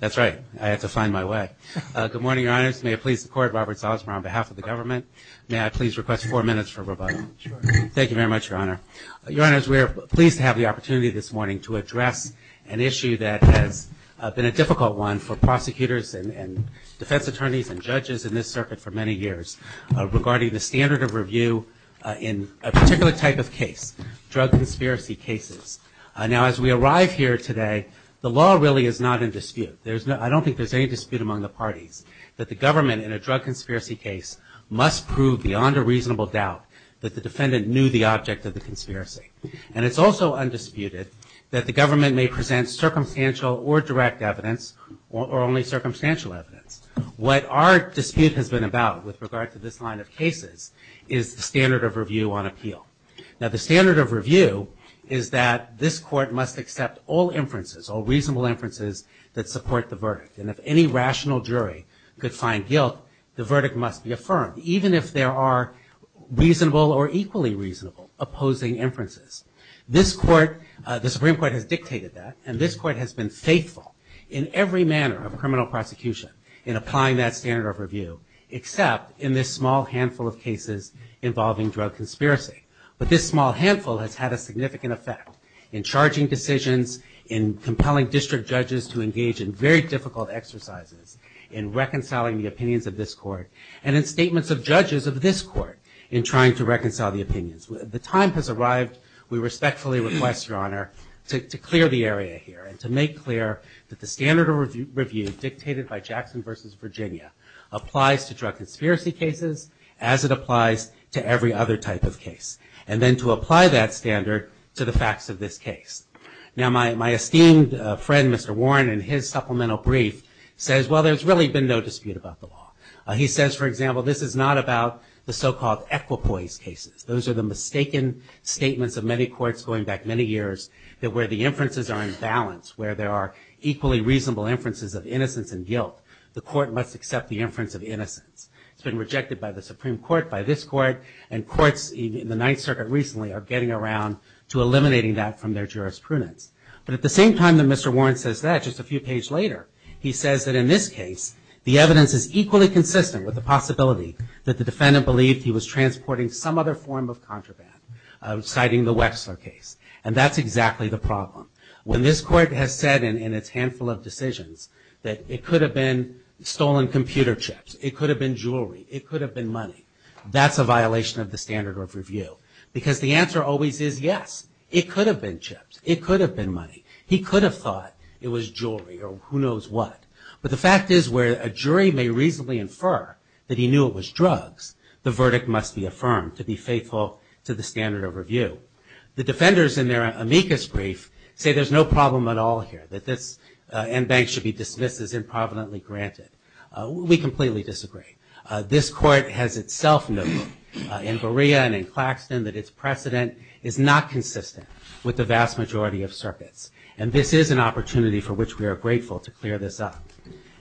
That's right. I had to find my way. Good morning, Your Honors. May I please record Robert Salzman on behalf of the government. May I please request four minutes for rebuttal. Thank you very much, Your Honor. Your Honors, we are pleased to have the opportunity this morning to address an issue that has been a difficult one for prosecutors and defense attorneys and judges in this circuit for many years regarding the standard of review in a particular type of case, drug conspiracy cases. Now as we arrive here today, the law really is not in dispute. I don't think there's any dispute among the parties that the government in a drug conspiracy case must prove beyond a reasonable doubt that the defendant knew the object of the conspiracy. And it's also undisputed that the government may present circumstantial or direct evidence or only circumstantial evidence. What our dispute has been about with regard to this line of cases is the standard of review on appeal. Now the standard of review is that this court must accept all inferences, all reasonable inferences that support the verdict. And if any rational jury could find guilt, the verdict must be affirmed, even if there are reasonable or equally reasonable opposing inferences. This court, the Supreme Court has dictated that, and this court has been faithful in every manner of criminal prosecution in applying that standard of review, except in this small handful of cases involving drug conspiracy. But this small handful has had a significant effect in charging decisions, in compelling district judges to engage in very difficult exercises, in reconciling the opinions of this court, and in statements of judges of this court in trying to reconcile the opinions. The time has arrived, we respectfully request, Your Honor, to clear the area here and to make clear that the standard of review dictated by Jackson v. Virginia applies to drug conspiracy cases as it applies to every other type of case. And then to apply that standard to the facts of this case. Now my esteemed friend, Mr. Warren, in his supplemental brief says, well, there's really been no dispute about the law. He says, for example, this is not about the so-called equipoise cases. Those are the mistaken statements of many courts going back many years where the inferences are in balance, where there are equally reasonable inferences of innocence and guilt. The court must accept the inference of innocence. It's been rejected by the Supreme Court, by this court, and courts in the Ninth Circuit recently are getting around to eliminating that from their jurisprudence. But at the same time that Mr. Warren says that, just a few pages later, he says that in this case, the evidence is equally consistent with the possibility that the defendant believed he was transporting some other form of contraband, citing the Wexler case. And that's exactly the problem. When this court has said in its handful of decisions that it could have been stolen computer chips, it could have been jewelry, it could have been money, that's a violation of the standard of review. Because the answer always is yes. It could have been chips. It could have been money. He could have thought it was jewelry or who knows what. But the fact is where a jury may reasonably infer that he knew it was drugs, the verdict must be affirmed to be faithful to the standard of review. The defenders in their amicus brief say there's no problem at all here, that this en banc should be dismissed as improvidently granted. We completely disagree. This court has itself noted in Borea and in Claxton that its precedent is not consistent with the vast majority of circuits. And this is an opportunity for which we are grateful to clear this up.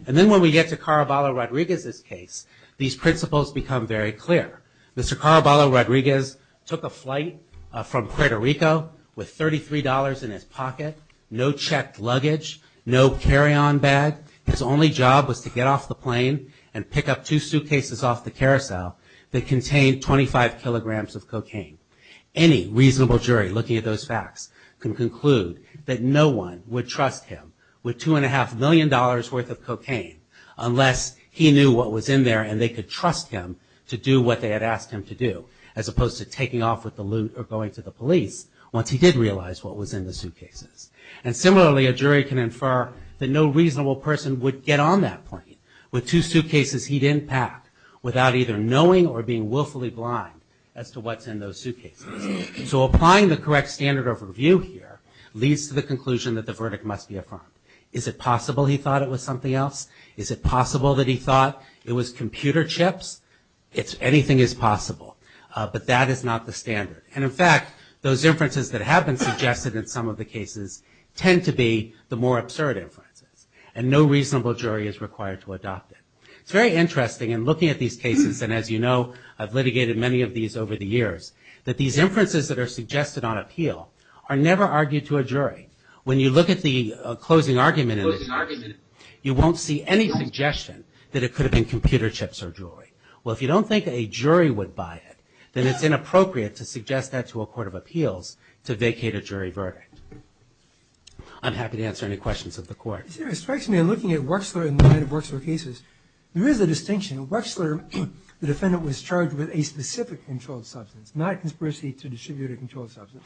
And then when we get to Caraballo-Rodriguez's case, these principles become very clear. Mr. Caraballo-Rodriguez took a flight from Puerto Rico with $33 in his pocket, no checked luggage, no carry-on bag. His only job was to get off the plane and pick up two suitcases off the carousel that contained 25 kilograms of cocaine. Any reasonable jury looking at those facts can conclude that no one would trust him with $2.5 million worth of cocaine unless he knew what was in there and they could trust him to do what they had asked him to do, as opposed to taking off with the loot or going to the police once he did realize what was in the suitcases. And similarly, a jury can infer that no reasonable person would get on that plane with two suitcases he didn't pack without either knowing or being willfully blind as to what's in those suitcases. So applying the correct standard of review here leads to the conclusion that the verdict must be affirmed. Is it possible he thought it was something else? Is it possible that he thought it was computer chips? Anything is possible, but that is not the standard. And in fact, those inferences that have been suggested in some of the cases tend to be the more absurd inferences and no reasonable jury is required to adopt it. It's very interesting in looking at these cases, and as you know, I've litigated many of these over the years, that these inferences that are suggested on appeal are never argued to a jury. When you look at the closing argument, you won't see any suggestion that it could have been computer chips or jewelry. Well, if you don't think a jury would buy it, then it's inappropriate to suggest that to a court of appeals to vacate a jury verdict. I'm happy to answer any questions of the Court. Is there a distinction in looking at Wechsler in the line of Wechsler cases? There is a distinction. Wechsler, the defendant, was charged with a specific controlled substance, not conspiracy to distribute a controlled substance.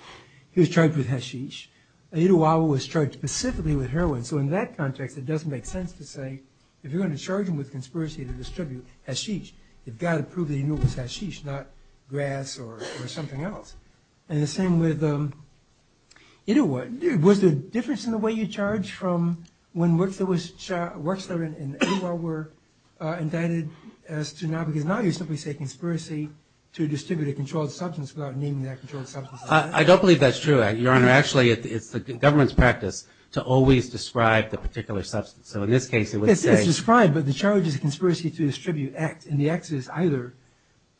He was charged with hashish. Etowah was charged specifically with heroin. So in that context, it doesn't make sense to say if you're going to charge him with conspiracy to distribute hashish, you've got to prove that he knew it was hashish, not grass or something else. And the same with Etowah. Was there a difference in the way you charged from when Wechsler and Etowah were indicted as to now, because now you simply say conspiracy to distribute a controlled substance without naming that controlled substance? I don't believe that's true, Your Honor. Actually, it's the government's practice to always describe the particular substance. So in this case, it would say – It's described, but the charge is conspiracy to distribute. And the act is either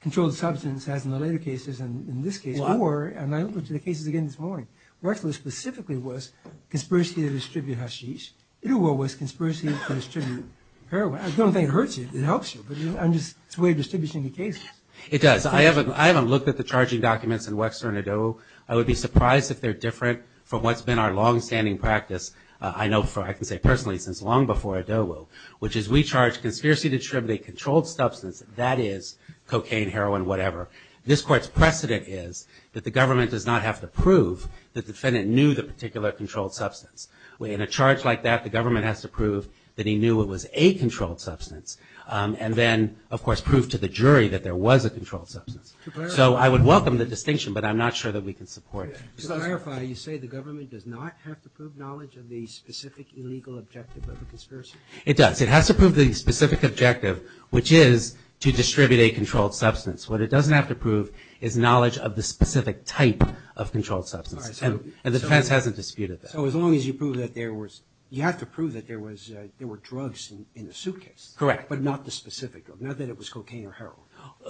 controlled substance, as in the later cases and in this case, or – and I looked at the cases again this morning. Wechsler specifically was conspiracy to distribute hashish. Etowah was conspiracy to distribute heroin. I don't think it hurts you. It helps you. But it's a way of distributing the cases. It does. I haven't looked at the charging documents in Wechsler and Etowah. I would be surprised if they're different from what's been our longstanding practice, I can say personally, since long before Etowah, which is we charge conspiracy to distribute a controlled substance, that is cocaine, heroin, whatever. This Court's precedent is that the government does not have to prove the defendant knew the particular controlled substance. In a charge like that, the government has to prove that he knew it was a controlled substance and then, of course, prove to the jury that there was a controlled substance. So I would welcome the distinction, but I'm not sure that we can support it. To clarify, you say the government does not have to prove knowledge of the specific illegal objective of a conspiracy? It does. It has to prove the specific objective, which is to distribute a controlled substance. What it doesn't have to prove is knowledge of the specific type of controlled substance. And the defense hasn't disputed that. So as long as you prove that there was – you have to prove that there was – there were drugs in the suitcase. Correct. But not the specific drug, not that it was cocaine or heroin.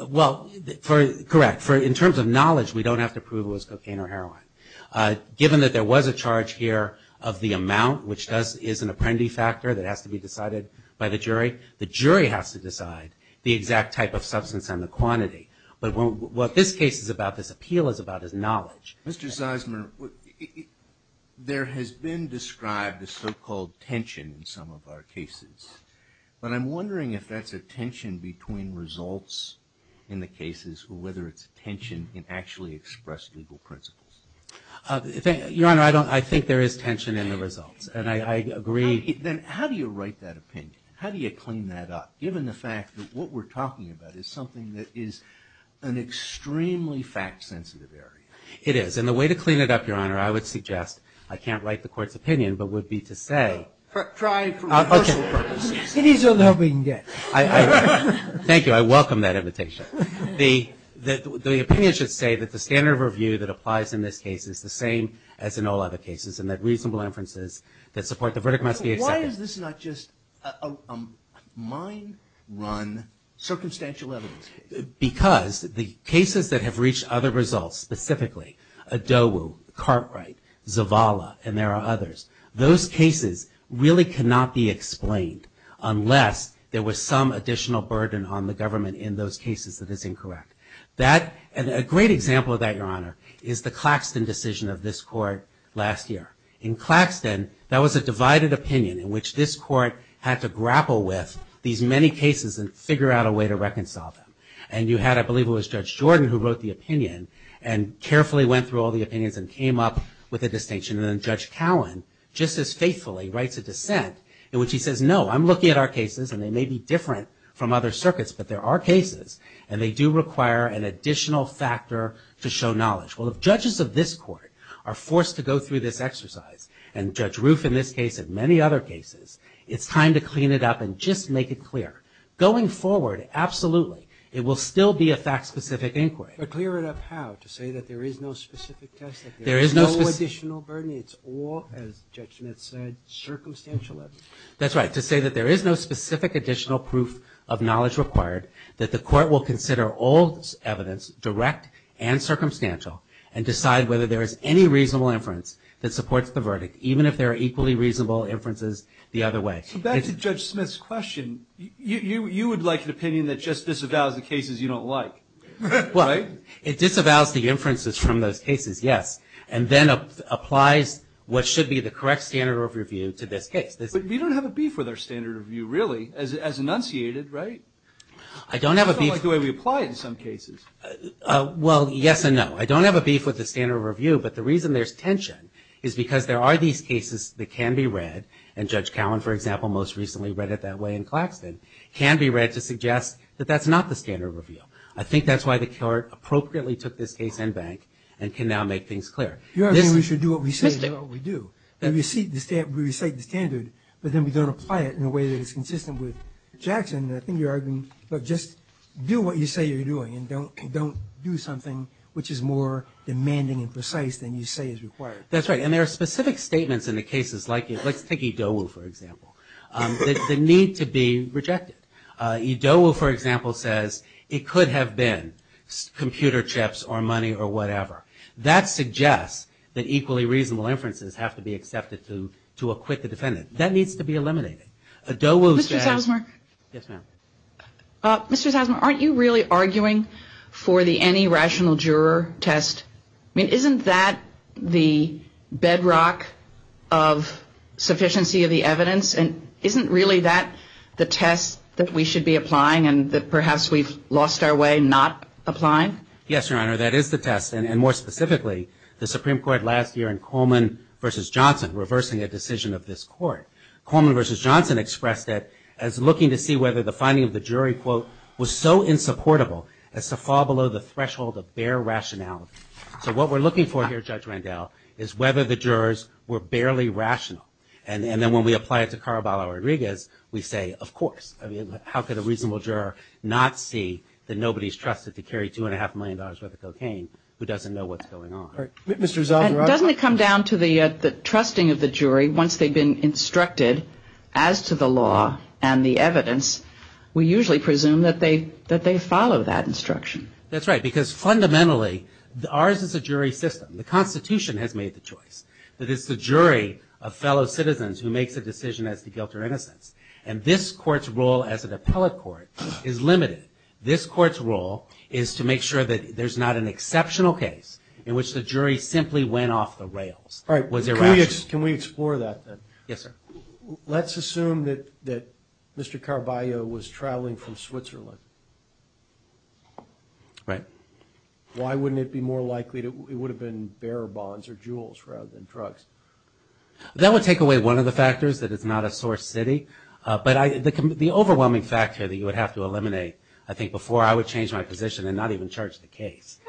Well, correct. In terms of knowledge, we don't have to prove it was cocaine or heroin. Given that there was a charge here of the amount, which is an apprendee factor that has to be decided by the jury, the jury has to decide the exact type of substance and the quantity. But what this case is about, this appeal is about, is knowledge. Mr. Zeisman, there has been described a so-called tension in some of our cases. But I'm wondering if that's a tension between results in the cases or whether it's a tension in actually expressed legal principles. Your Honor, I don't – I think there is tension in the results. And I agree. Then how do you write that opinion? How do you clean that up, given the fact that what we're talking about is something that is an extremely fact-sensitive area? It is. And the way to clean it up, Your Honor, I would suggest – I can't write the Court's opinion, but would be to say – Try for rehearsal purposes. It is a loving death. Thank you. I welcome that invitation. The opinion should say that the standard of review that applies in this case is the same as in all other cases, and that reasonable inferences that support the verdict must be accepted. Why is this not just a mind-run, circumstantial evidence case? Because the cases that have reached other results, specifically Adobu, Cartwright, Zavala, and there are others, those cases really cannot be explained unless there was some additional burden on the government in those cases that is incorrect. That – and a great example of that, Your Honor, is the Claxton decision of this Court last year. In Claxton, that was a divided opinion in which this Court had to grapple with these many cases and figure out a way to reconcile them. And you had, I believe it was Judge Jordan who wrote the opinion and carefully went through all the opinions and came up with a distinction. And then Judge Cowan, just as faithfully, writes a dissent in which he says, no, I'm looking at our cases and they may be different from other circuits, but there are cases and they do require an additional factor to show knowledge. Well, if judges of this Court are forced to go through this exercise, and Judge Roof in this case and many other cases, it's time to clean it up and just make it clear. Going forward, absolutely, it will still be a fact-specific inquiry. But clear it up how? To say that there is no specific test? There is no additional burden? It's all, as Judge Smith said, circumstantial evidence? That's right. To say that there is no specific additional proof of knowledge required, that the Court will consider all evidence direct and circumstantial and decide whether there is any reasonable inference that supports the verdict, even if there are equally reasonable inferences the other way. So back to Judge Smith's question, you would like an opinion that just disavows the cases you don't like, right? It disavows the inferences from those cases, yes. And then applies what should be the correct standard of review to this case. But we don't have a beef with our standard of review, really, as enunciated, right? I don't have a beef. It's not like the way we apply it in some cases. Well, yes and no. I don't have a beef with the standard of review, but the reason there's tension is because there are these cases that can be read, and Judge Cowan, for example, most recently read it that way in Claxton, can be read to suggest that that's not the standard of review. I think that's why the Court appropriately took this case in bank and can now make things clear. You're arguing we should do what we say and do what we do. We recite the standard, but then we don't apply it in a way that is consistent with Jackson. And I think you're arguing, look, just do what you say you're doing and don't do something which is more demanding and precise than you say is required. That's right. And there are specific statements in the cases like it. Let's take Edowu, for example, the need to be rejected. Edowu, for example, says it could have been computer chips or money or whatever. That suggests that equally reasonable inferences have to be accepted to acquit the defendant. That needs to be eliminated. Edowu says- Mr. Salzmark. Yes, ma'am. Mr. Salzmark, aren't you really arguing for the any rational juror test? I mean, isn't that the bedrock of sufficiency of the evidence? And isn't really that the test that we should be applying and that perhaps we've lost our way not applying? Yes, Your Honor, that is the test, and more specifically the Supreme Court last year in Coleman v. Johnson reversing a decision of this court. Coleman v. Johnson expressed that as looking to see whether the finding of the jury, quote, was so insupportable as to fall below the threshold of bare rationality. So what we're looking for here, Judge Randall, is whether the jurors were barely rational. And then when we apply it to Caraballo-Rodriguez, we say, of course. I mean, how could a reasonable juror not see that nobody's trusted to carry $2.5 million worth of cocaine who doesn't know what's going on? Mr. Salzmark. Doesn't it come down to the trusting of the jury once they've been instructed as to the law and the evidence? We usually presume that they follow that instruction. That's right, because fundamentally ours is a jury system. The Constitution has made the choice. That it's the jury of fellow citizens who makes a decision as to guilt or innocence. And this court's role as an appellate court is limited. This court's role is to make sure that there's not an exceptional case in which the jury simply went off the rails, was irrational. All right. Can we explore that, then? Yes, sir. Let's assume that Mr. Caraballo was traveling from Switzerland. Right. Why wouldn't it be more likely it would have been bearer bonds or jewels rather than drugs? That would take away one of the factors, that it's not a source city. But the overwhelming factor that you would have to eliminate, I think, before I would change my position and not even charge the case,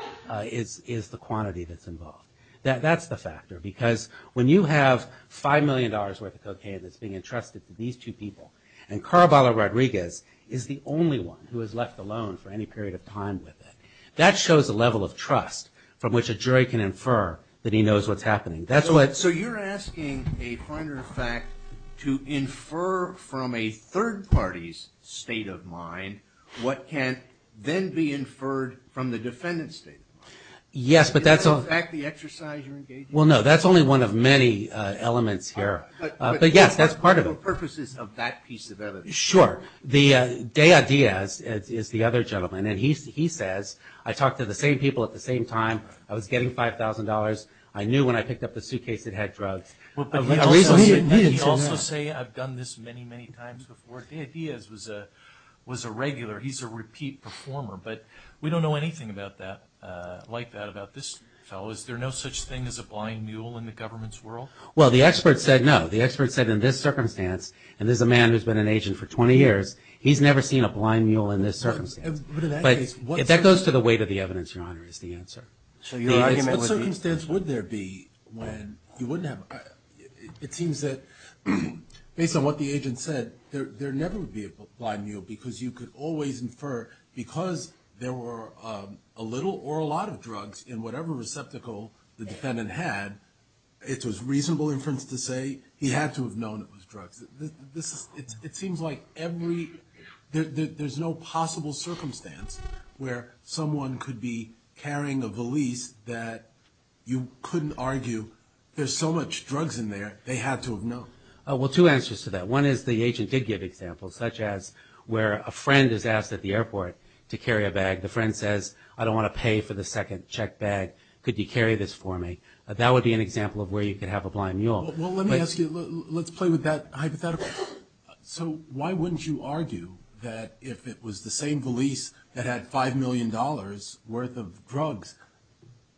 is the quantity that's involved. That's the factor. Because when you have $5 million worth of cocaine that's being entrusted to these two people, and Caraballo Rodriguez is the only one who is left alone for any period of time with it, that shows the level of trust from which a jury can infer that he knows what's happening. So you're asking a point of fact to infer from a third party's state of mind what can then be inferred from the defendant's state of mind. Yes, but that's all. Is that, in fact, the exercise you're engaging in? Well, no. That's only one of many elements here. But yes, that's part of it. What are the purposes of that piece of evidence? Sure. Dea Diaz is the other gentleman, and he says, I talked to the same people at the same time. I was getting $5,000. I knew when I picked up the suitcase it had drugs. But he also said, I've done this many, many times before. Dea Diaz was a regular. He's a repeat performer. But we don't know anything like that about this fellow. Is there no such thing as a blind mule in the government's world? Well, the expert said no. The expert said in this circumstance, and this is a man who's been an agent for 20 years, he's never seen a blind mule in this circumstance. But that goes to the weight of the evidence, Your Honor, is the answer. So your argument would be? What circumstance would there be when you wouldn't have? It seems that based on what the agent said, there never would be a blind mule because you could always infer, because there were a little or a lot of drugs in whatever receptacle the defendant had, it was reasonable inference to say he had to have known it was drugs. It seems like every – there's no possible circumstance where someone could be carrying a valise that you couldn't argue there's so much drugs in there they had to have known. Well, two answers to that. One is the agent did give examples, such as where a friend is asked at the airport to carry a bag. The friend says, I don't want to pay for the second checked bag. Could you carry this for me? That would be an example of where you could have a blind mule. Well, let me ask you – let's play with that hypothetical. So why wouldn't you argue that if it was the same valise that had $5 million worth of drugs,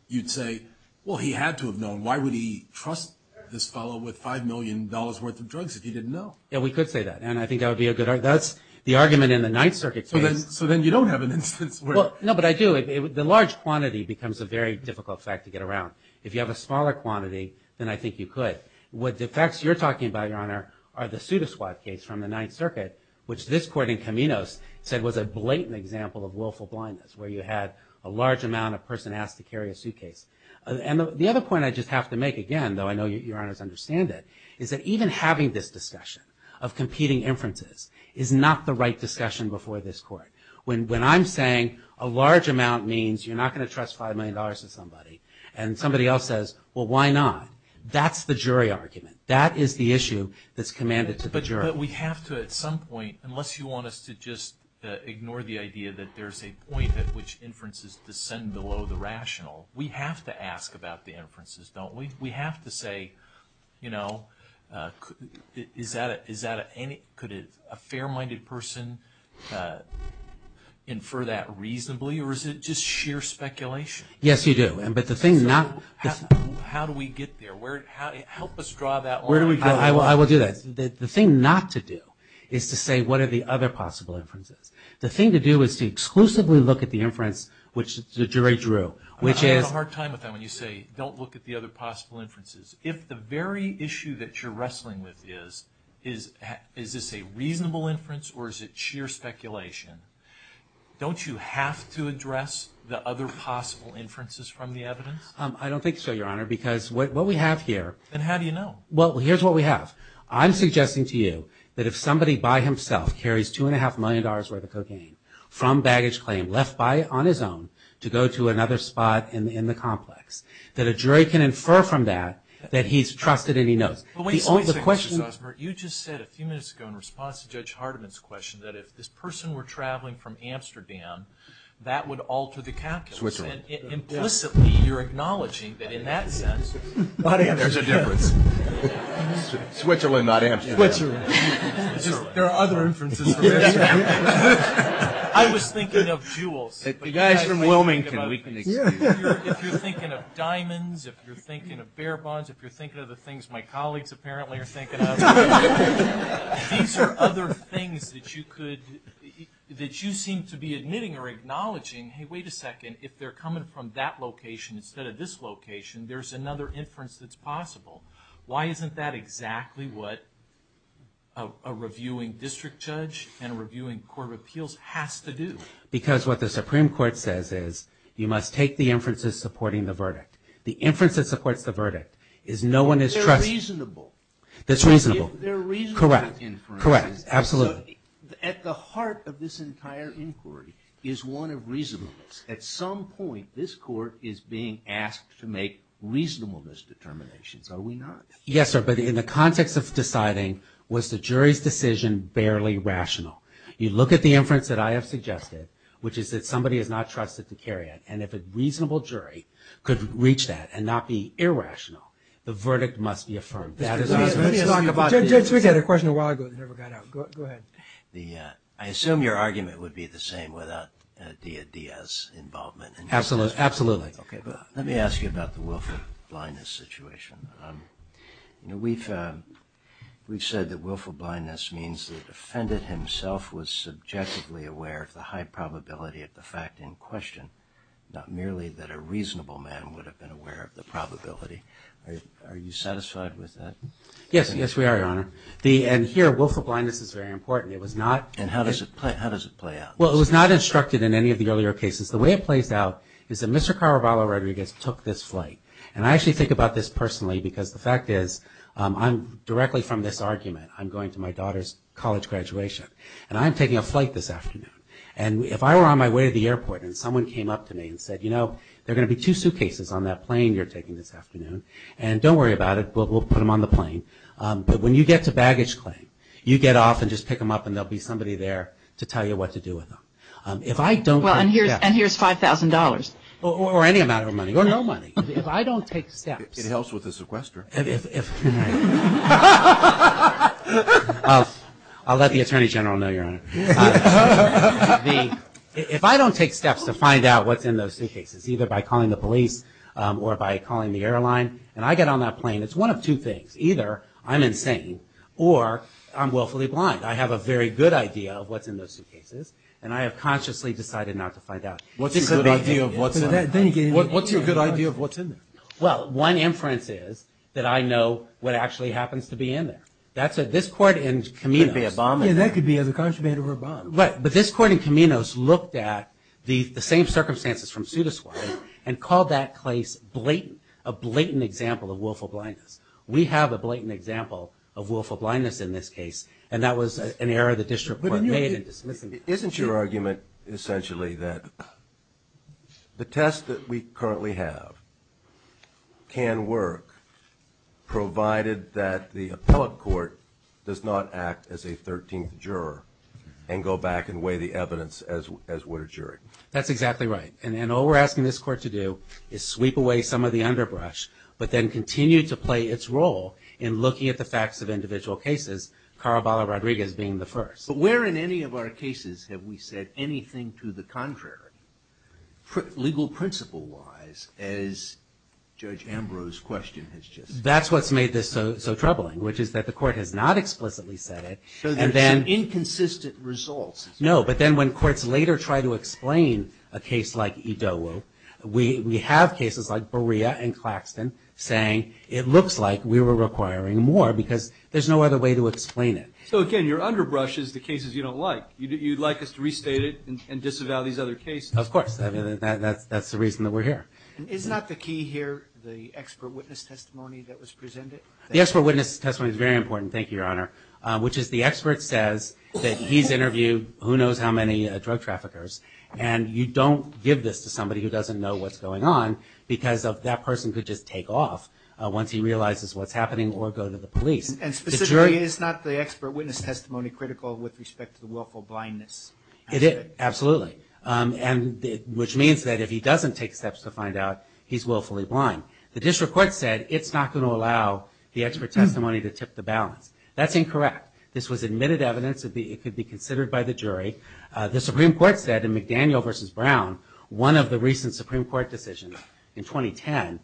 you'd say, well, he had to have known. Why would he trust this fellow with $5 million worth of drugs if he didn't know? Yeah, we could say that, and I think that would be a good – that's the argument in the Ninth Circuit case. So then you don't have an instance where – No, but I do. The large quantity becomes a very difficult fact to get around. If you have a smaller quantity, then I think you could. What defects you're talking about, Your Honor, are the pseudosquad case from the Ninth Circuit, which this court in Caminos said was a blatant example of willful blindness, where you had a large amount of person asked to carry a suitcase. And the other point I just have to make, again, though I know Your Honors understand it, is that even having this discussion of competing inferences is not the right discussion before this court. When I'm saying a large amount means you're not going to trust $5 million to somebody and somebody else says, well, why not? That's the jury argument. That is the issue that's commanded to the jury. But we have to at some point, unless you want us to just ignore the idea that there's a point at which inferences descend below the rational, we have to ask about the inferences, don't we? We have to say, you know, is that a – could a fair-minded person infer that reasonably, or is it just sheer speculation? Yes, you do. But the thing not – So how do we get there? Help us draw that line. I will do that. The thing not to do is to say what are the other possible inferences. The thing to do is to exclusively look at the inference which the jury drew, which is – I have a hard time with that when you say don't look at the other possible inferences. If the very issue that you're wrestling with is, is this a reasonable inference or is it sheer speculation, don't you have to address the other possible inferences from the evidence? I don't think so, Your Honor, because what we have here – Then how do you know? Well, here's what we have. I'm suggesting to you that if somebody by himself carries $2.5 million worth of cocaine from baggage claim left by – on his own to go to another spot in the complex, that a jury can infer from that that he's trusted and he knows. But wait a second, Justice Osbert. You just said a few minutes ago in response to Judge Hardiman's question that if this person were traveling from Amsterdam, that would alter the calculus. Switzerland. And implicitly you're acknowledging that in that sense – Not Amsterdam. There's a difference. Switzerland, not Amsterdam. Switzerland. There are other inferences for Amsterdam. I was thinking of jewels. If you guys from Wilmington, we can excuse you. If you're thinking of diamonds, if you're thinking of bear bonds, if you're thinking of the things my colleagues apparently are thinking of, these are other things that you could – that you seem to be admitting or acknowledging. Hey, wait a second. If they're coming from that location instead of this location, there's another inference that's possible. Why isn't that exactly what a reviewing district judge and a reviewing court of appeals has to do? Because what the Supreme Court says is you must take the inferences supporting the verdict. The inference that supports the verdict is no one is trusting – But they're reasonable. That's reasonable. They're reasonable inferences. Correct. Correct. Absolutely. At the heart of this entire inquiry is one of reasonableness. At some point this court is being asked to make reasonableness determinations. Are we not? Yes, sir. But in the context of deciding was the jury's decision barely rational. You look at the inference that I have suggested, which is that somebody is not trusted to carry it, and if a reasonable jury could reach that and not be irrational, the verdict must be affirmed. Judge, we got a question a while ago that never got out. Go ahead. I assume your argument would be the same without Dia Dia's involvement. Absolutely. Let me ask you about the willful blindness situation. We've said that willful blindness means the defendant himself was subjectively aware of the high probability of the fact in question, not merely that a reasonable man would have been aware of the probability. Are you satisfied with that? Yes. Yes, we are, Your Honor. And here, willful blindness is very important. It was not. And how does it play out? Well, it was not instructed in any of the earlier cases. The way it plays out is that Mr. Caravaglio Rodriguez took this flight, and I actually think about this personally because the fact is, I'm directly from this argument. I'm going to my daughter's college graduation, and I'm taking a flight this afternoon, and if I were on my way to the airport and someone came up to me and said, you know, there are going to be two suitcases on that plane you're taking this afternoon, and don't worry about it. We'll put them on the plane. But when you get to baggage claim, you get off and just pick them up, and there will be somebody there to tell you what to do with them. Well, and here's $5,000. Or any amount of money, or no money. If I don't take steps. I'll let the Attorney General know, Your Honor. If I don't take steps to find out what's in those suitcases, either by calling the police or by calling the airline, and I get on that plane, it's one of two things. Either I'm insane, or I'm willfully blind. I have a very good idea of what's in those suitcases, and I have consciously decided not to find out. What's your good idea of what's in there? Well, one inference is that I know what actually happens to be in there. This Court in Camino. That could be a bomb in there. Yeah, that could be either a contraband or a bomb. Right. But this Court in Camino's looked at the same circumstances from Suda's point, and called that case blatant, a blatant example of willful blindness. We have a blatant example of willful blindness in this case, and that was an error the District Court made in dismissing it. Isn't your argument essentially that the test that we currently have can work, provided that the appellate court does not act as a 13th juror and go back and weigh the evidence as would a jury? That's exactly right. And all we're asking this Court to do is sweep away some of the underbrush, but then continue to play its role in looking at the facts of individual cases, Caraballo-Rodriguez being the first. But where in any of our cases have we said anything to the contrary, legal principle-wise, as Judge Ambrose's question has just said? That's what's made this so troubling, which is that the Court has not explicitly said it. So there's some inconsistent results. No, but then when courts later try to explain a case like Idowu, we have cases like Berea and Claxton saying, it looks like we were requiring more because there's no other way to explain it. So again, your underbrush is the cases you don't like. You'd like us to restate it and disavow these other cases? Of course. That's the reason that we're here. Is not the key here the expert witness testimony that was presented? The expert witness testimony is very important, thank you, Your Honor, which is the expert says that he's interviewed who knows how many drug traffickers, and you don't give this to somebody who doesn't know what's going on because that person could just take off once he realizes what's happening or go to the police. And specifically, is not the expert witness testimony critical with respect to the willful blindness? Absolutely, which means that if he doesn't take steps to find out, he's willfully blind. The district court said it's not going to allow the expert testimony to tip the balance. That's incorrect. This was admitted evidence. It could be considered by the jury. The Supreme Court said in McDaniel v. Brown, one of the recent Supreme Court decisions in 2010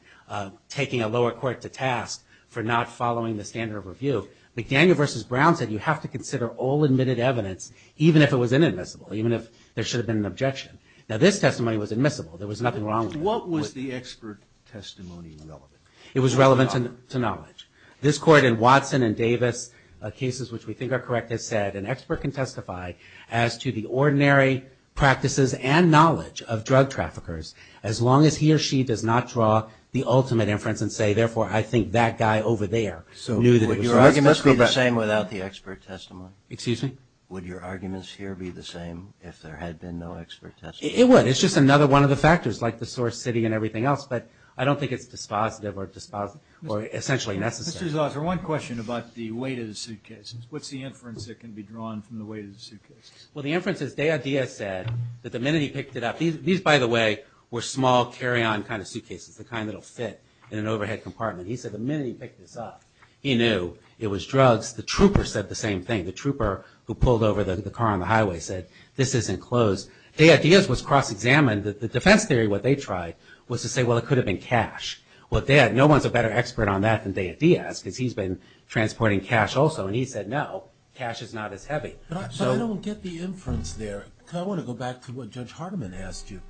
taking a lower court to task for not following the standard of review, McDaniel v. Brown said you have to consider all admitted evidence, even if it was inadmissible, even if there should have been an objection. Now, this testimony was admissible. There was nothing wrong with it. What was the expert testimony relevant? It was relevant to knowledge. This court in Watson and Davis, cases which we think are correct, has said an expert can testify as to the ordinary practices and knowledge of drug traffickers as long as he or she does not draw the ultimate inference and say, therefore, I think that guy over there knew that there was an argument for that. So would your arguments be the same without the expert testimony? Excuse me? Would your arguments here be the same if there had been no expert testimony? It would. It's just another one of the factors like the source city and everything else, but I don't think it's dispositive or essentially necessary. Mr. Zauser, one question about the weight of the suitcases. What's the inference that can be drawn from the weight of the suitcases? Well, the inference is Dea Dia said that the minute he picked it up, these, by the way, were small carry-on kind of suitcases, the kind that will fit in an overhead compartment. He said the minute he picked this up, he knew it was drugs. The trooper said the same thing. The trooper who pulled over the car on the highway said, this isn't closed. Dea Dia's was cross-examined. The defense theory, what they tried, was to say, well, it could have been cash. Well, no one's a better expert on that than Dea Dia's because he's been transporting cash also, and he said, no, cash is not as heavy. But I don't get the inference there. I want to go back to what Judge Hardiman asked you,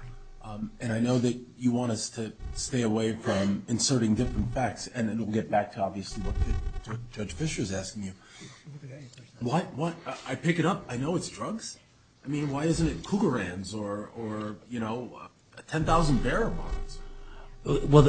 and I know that you want us to stay away from inserting different facts, and then we'll get back to obviously what Judge Fischer is asking you. What? I pick it up. I know it's drugs. I mean, why isn't it Cougar hands or, you know, 10,000 bearer bonds? Well,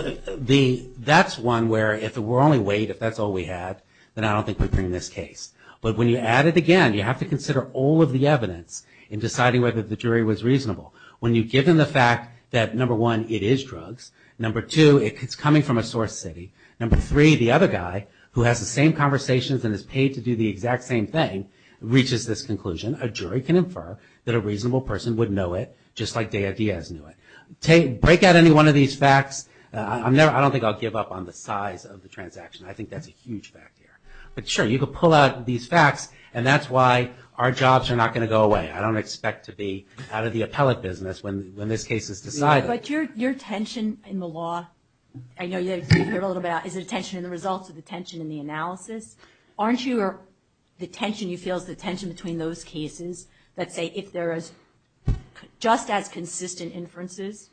that's one where if it were only weight, if that's all we had, then I don't think we'd bring this case. But when you add it again, you have to consider all of the evidence in deciding whether the jury was reasonable. When you've given the fact that, number one, it is drugs, number two, it's coming from a source city, number three, the other guy, who has the same conversations and is paid to do the exact same thing, reaches this conclusion, a jury can infer that a reasonable person would know it, just like Dea Dia's knew it. Break out any one of these facts. I don't think I'll give up on the size of the transaction. I think that's a huge fact here. But sure, you could pull out these facts, and that's why our jobs are not going to go away. I don't expect to be out of the appellate business when this case is decided. But your tension in the law, I know you've heard a little bit about it, is it a tension in the results or the tension in the analysis? Aren't you or the tension you feel is the tension between those cases that say if there is just as consistent inferences,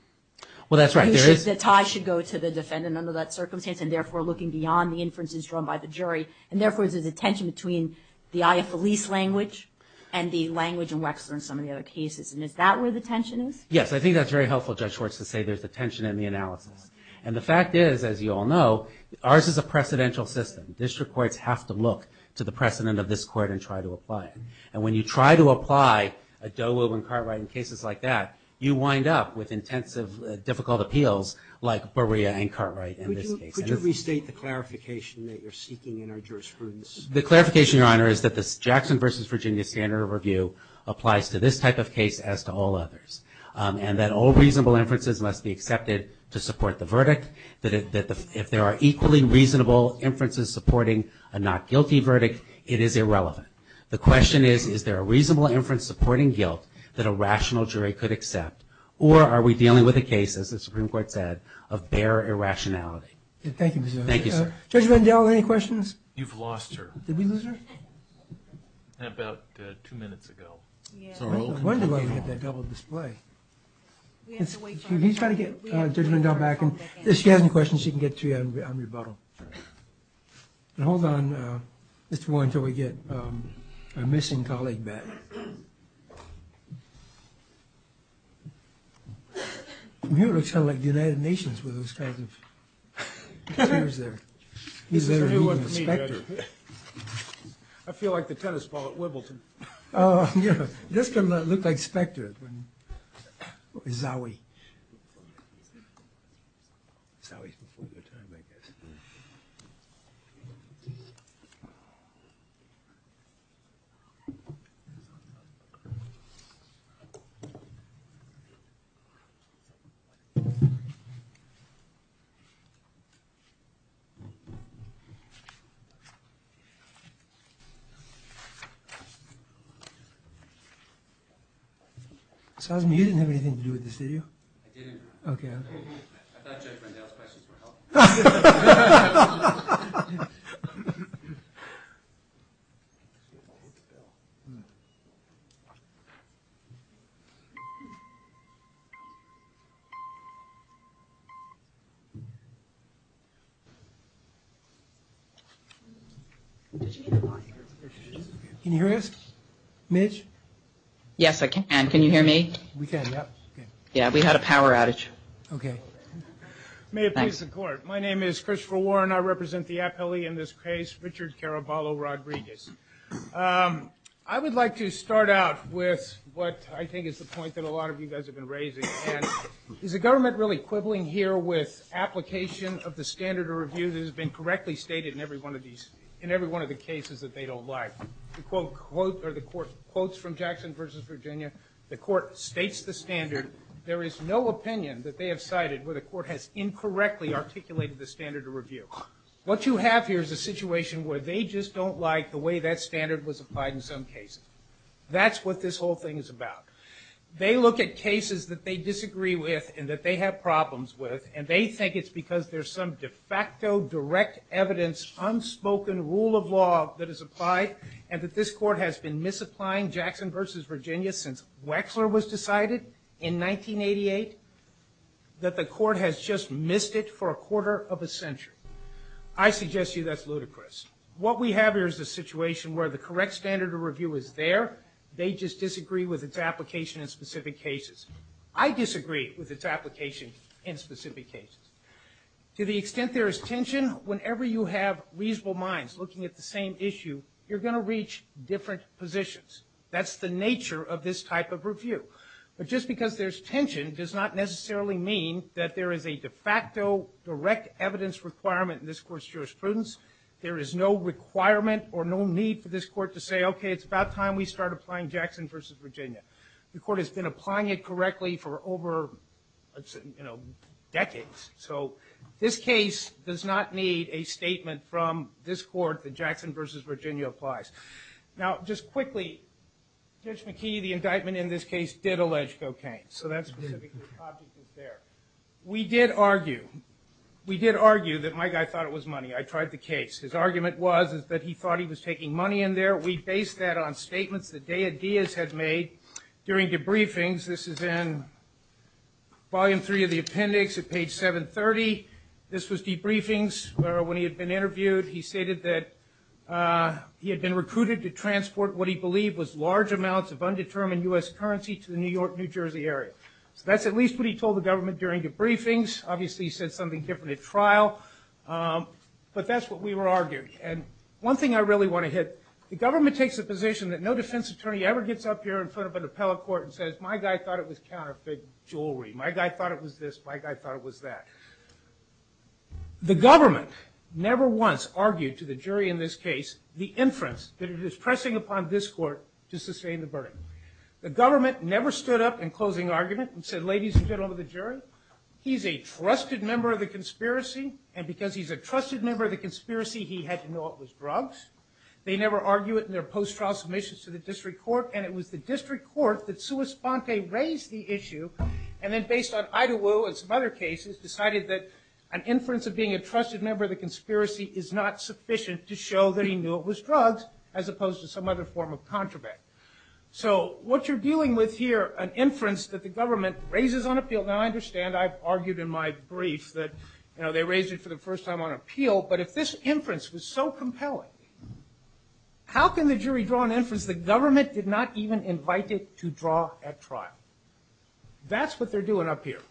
the tie should go to the defendant under that circumstance and therefore looking beyond the inferences drawn by the jury, and therefore there's a tension between the aia felice language and the language in Wexler and some of the other cases. And is that where the tension is? Yes. I think that's very helpful, Judge Schwartz, to say there's a tension in the analysis. And the fact is, as you all know, ours is a precedential system. District courts have to look to the precedent of this court and try to apply it. And when you try to apply a Doe-Wilburn-Cartwright in cases like that, you wind up with intensive, difficult appeals like Berea and Cartwright in this case. Could you restate the clarification that you're seeking in our jurisprudence? The clarification, Your Honor, is that the Jackson v. Virginia standard of review applies to this type of case as to all others, and that all reasonable inferences must be accepted to support the verdict, that if there are equally reasonable inferences supporting a not guilty verdict, it is irrelevant. The question is, is there a reasonable inference supporting guilt that a rational jury could accept, or are we dealing with a case, as the Supreme Court said, of bare irrationality? Thank you. Thank you, sir. Judge Rendell, any questions? You've lost her. Did we lose her? About two minutes ago. I wonder why we had that double display. Can you try to get Judge Rendell back in? If she has any questions, she can get to you on rebuttal. Hold on, Mr. Warren, until we get our missing colleague back. He looks kind of like the United Nations with those kinds of chairs there. This is a new one for me, Judge. I feel like the tennis ball at Wibbleton. He does kind of look like Specter. Or Zowie. Zowie. Zowie is before your time, I guess. Thank you. You didn't have anything to do with this, did you? I didn't. I thought Judge Rendell's questions were helpful. No. Can you hear us, Mitch? Yes, I can. Can you hear me? We can, yeah. Yeah, we had a power outage. Okay. May it please the court. My name is Christopher Warren. I represent the appellee in this case, Richard Caraballo Rodriguez. I would like to start out with what I think is the point that a lot of you guys have been raising, and is the government really quibbling here with application of the standard of review that has been correctly stated in every one of the cases that they don't like? The court quotes from Jackson v. Virginia. The court states the standard. There is no opinion that they have cited where the court has incorrectly articulated the standard of review. What you have here is a situation where they just don't like the way that standard was applied in some cases. That's what this whole thing is about. They look at cases that they disagree with and that they have problems with, and they think it's because there's some de facto, direct evidence, unspoken rule of law that is applied, and that this court has been misapplying Jackson v. Virginia since Wexler was decided in 1988, that the court has just missed it for a quarter of a century. I suggest to you that's ludicrous. What we have here is a situation where the correct standard of review is there. They just disagree with its application in specific cases. I disagree with its application in specific cases. To the extent there is tension, whenever you have reasonable minds looking at the same issue, you're going to reach different positions. That's the nature of this type of review. But just because there's tension does not necessarily mean that there is a de facto, direct evidence requirement in this court's jurisprudence. There is no requirement or no need for this court to say, okay, it's about time we start applying Jackson v. Virginia. The court has been applying it correctly for over, you know, decades. So this case does not need a statement from this court that Jackson v. Virginia applies. Now, just quickly, Judge McKee, the indictment in this case, did allege cocaine. So that's specifically the object there. We did argue that my guy thought it was money. I tried the case. His argument was that he thought he was taking money in there. We based that on statements that Dea Diaz had made during debriefings. This is in volume three of the appendix at page 730. This was debriefings where, when he had been interviewed, he stated that he had been recruited to transport what he believed was large amounts of undetermined U.S. currency to the New York, New Jersey area. So that's at least what he told the government during debriefings. Obviously, he said something different at trial. But that's what we were arguing. And one thing I really want to hit, the government takes the position that no defense attorney ever gets up here in front of an attorney and says, my guy thought it was counterfeit jewelry. My guy thought it was this. My guy thought it was that. The government never once argued to the jury in this case the inference that it is pressing upon this court to sustain the burden. The government never stood up in closing argument and said, ladies and gentlemen of the jury, he's a trusted member of the conspiracy, and because he's a trusted member of the conspiracy, he had to know it was drugs. They never argue it in their post-trial submissions to the district court, and it was the district court that sui sponte raised the issue and then based on Idaho and some other cases decided that an inference of being a trusted member of the conspiracy is not sufficient to show that he knew it was drugs as opposed to some other form of contraband. So what you're dealing with here, an inference that the government raises on appeal. Now, I understand I've argued in my brief that, you know, they raised it for the first time on appeal. But if this inference was so compelling, how can the jury draw an inference the government did not even invite it to draw at trial? That's what they're doing up here.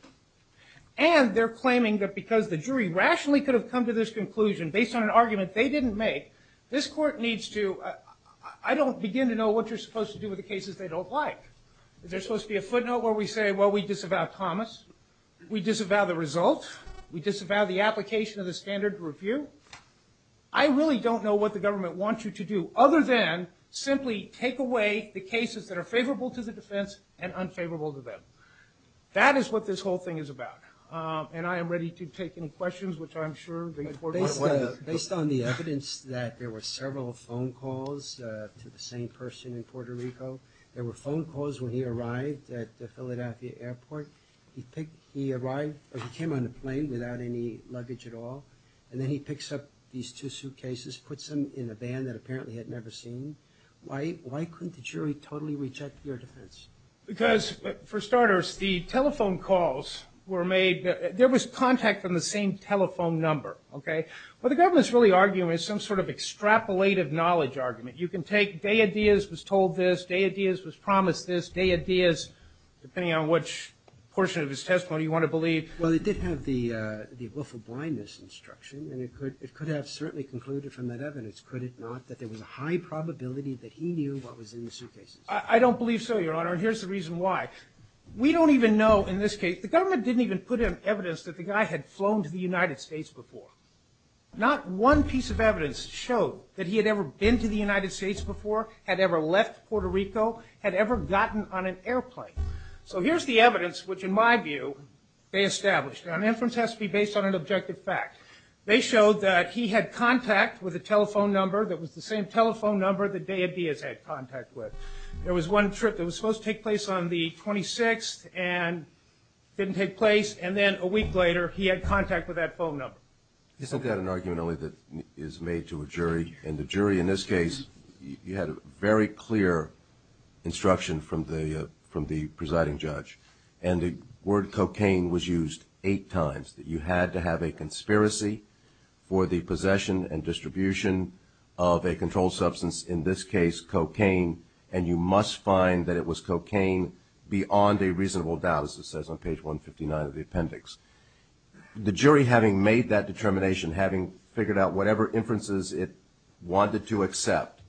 And they're claiming that because the jury rationally could have come to this conclusion based on an argument they didn't make, this court needs to, I don't begin to know what you're supposed to do with the cases they don't like. Is there supposed to be a footnote where we say, well, we disavow Thomas? We disavow the result? We disavow the application of the standard review? I really don't know what the government wants you to do other than simply take away the cases that are favorable to the defense and unfavorable to them. That is what this whole thing is about. And I am ready to take any questions which I'm sure the court might want to take. Based on the evidence that there were several phone calls to the same person in Puerto Rico, there were phone calls when he arrived at the Philadelphia airport. He picked, he arrived, he came on the plane without any luggage at all. And then he picks up these two suitcases, puts them in a van that apparently he had never seen. Why couldn't the jury totally reject your defense? Because, for starters, the telephone calls were made, there was contact from the same telephone number, okay? What the government is really arguing is some sort of extrapolated knowledge argument. You can take, Dea Diaz was told this, Dea Diaz was promised this, Dea Diaz, depending on which portion of his testimony you want to believe. Well, it did have the wolf of blindness instruction, and it could have certainly concluded from that evidence, could it not, that there was a high probability that he knew what was in the suitcases? I don't believe so, Your Honor, and here's the reason why. We don't even know, in this case, the government didn't even put in evidence that the guy had flown to the United States before. Not one piece of evidence showed that he had ever been to the United States before, had ever left Puerto Rico, had ever gotten on an airplane. So here's the evidence, which, in my view, they established. Now, an inference has to be based on an objective fact. They showed that he had contact with a telephone number that was the same telephone number that Dea Diaz had contact with. There was one trip that was supposed to take place on the 26th and didn't take place, and then a week later he had contact with that phone number. Isn't that an argument only that is made to a jury? In the jury, in this case, you had a very clear instruction from the presiding judge, and the word cocaine was used eight times, that you had to have a conspiracy for the possession and distribution of a controlled substance, in this case cocaine, and you must find that it was cocaine beyond a reasonable doubt, as it says on page 159 of the appendix. The jury, having made that determination, having figured out whatever inferences it wanted to accept,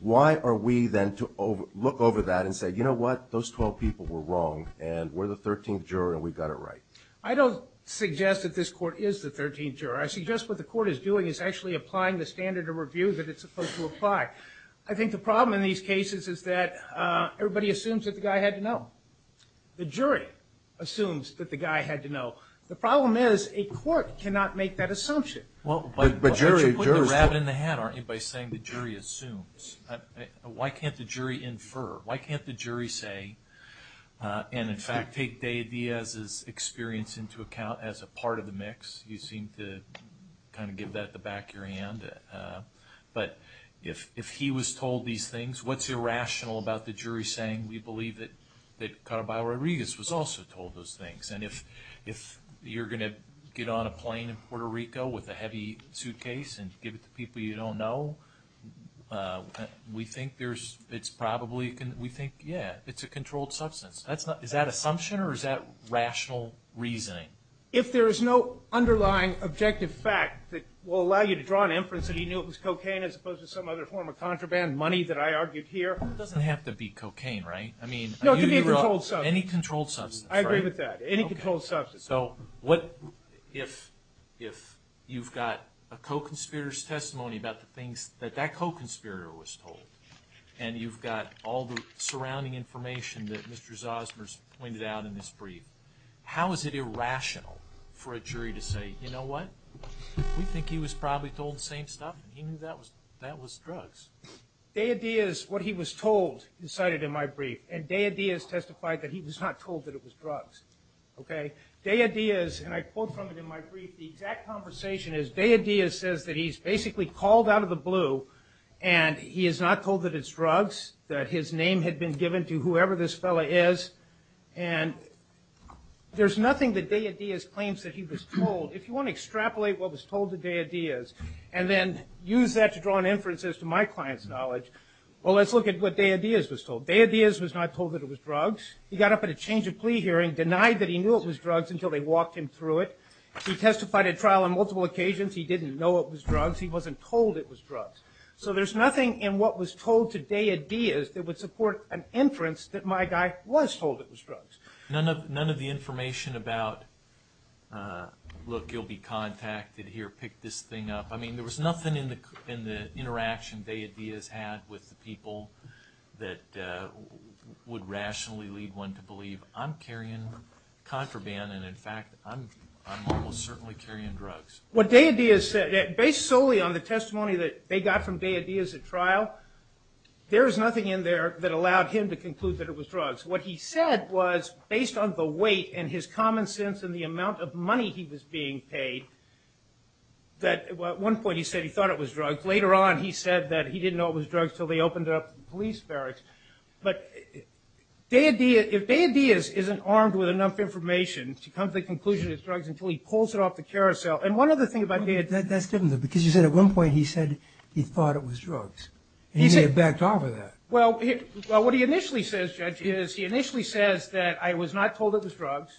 why are we then to look over that and say, you know what, those 12 people were wrong and we're the 13th juror and we got it right? I don't suggest that this court is the 13th juror. I suggest what the court is doing is actually applying the standard of review that it's supposed to apply. I think the problem in these cases is that everybody assumes that the guy had to know. The jury assumes that the guy had to know. The problem is a court cannot make that assumption. But you're putting the rabbit in the hat, aren't you, by saying the jury assumes. Why can't the jury infer? Why can't the jury say, and in fact take Dea Diaz's experience into account as a part of the mix? You seem to kind of give that to the back of your hand. But if he was told these things, what's irrational about the jury saying, we believe that Caraballo Rodriguez was also told those things? And if you're going to get on a plane in Puerto Rico with a heavy suitcase and give it to people you don't know, we think it's probably, yeah, it's a controlled substance. Is that assumption or is that rational reasoning? If there is no underlying objective fact that will allow you to draw an inference that he knew it was cocaine as opposed to some other form of contraband, money that I argued here. It doesn't have to be cocaine, right? No, it could be a controlled substance. Any controlled substance. I agree with that. Any controlled substance. So if you've got a co-conspirator's testimony about the things that that co-conspirator was told, and you've got all the surrounding information that Mr. Zosmer's pointed out in this brief, how is it irrational for a jury to say, you know what? We think he was probably told the same stuff. He knew that was drugs. And Deideas testified that he was not told that it was drugs. Okay? Deideas, and I quote from it in my brief, the exact conversation is Deideas says that he's basically called out of the blue and he is not told that it's drugs, that his name had been given to whoever this fellow is, and there's nothing that Deideas claims that he was told. If you want to extrapolate what was told to Deideas and then use that to draw an inference as to my client's knowledge, well, let's look at what Deideas was told. Deideas was not told that it was drugs. He got up at a change of plea hearing, denied that he knew it was drugs until they walked him through it. He testified at trial on multiple occasions. He didn't know it was drugs. He wasn't told it was drugs. So there's nothing in what was told to Deideas that would support an inference that my guy was told it was drugs. None of the information about, look, you'll be contacted here, pick this thing up. I mean, there was nothing in the interaction Deideas had with the people that would rationally lead one to believe I'm carrying contraband and, in fact, I'm almost certainly carrying drugs. What Deideas said, based solely on the testimony that they got from Deideas at trial, there is nothing in there that allowed him to conclude that it was drugs. What he said was, based on the weight and his common sense and the amount of money he was being paid, that at one point he said he thought it was drugs. Later on he said that he didn't know it was drugs until they opened it up to the police barracks. But if Deideas isn't armed with enough information to come to the conclusion it's drugs until he pulls it off the carousel and one other thing about Deideas. That's different, though, because you said at one point he said he thought it was drugs. He may have backed off of that. Well, what he initially says, Judge, is he initially says that I was not told it was drugs.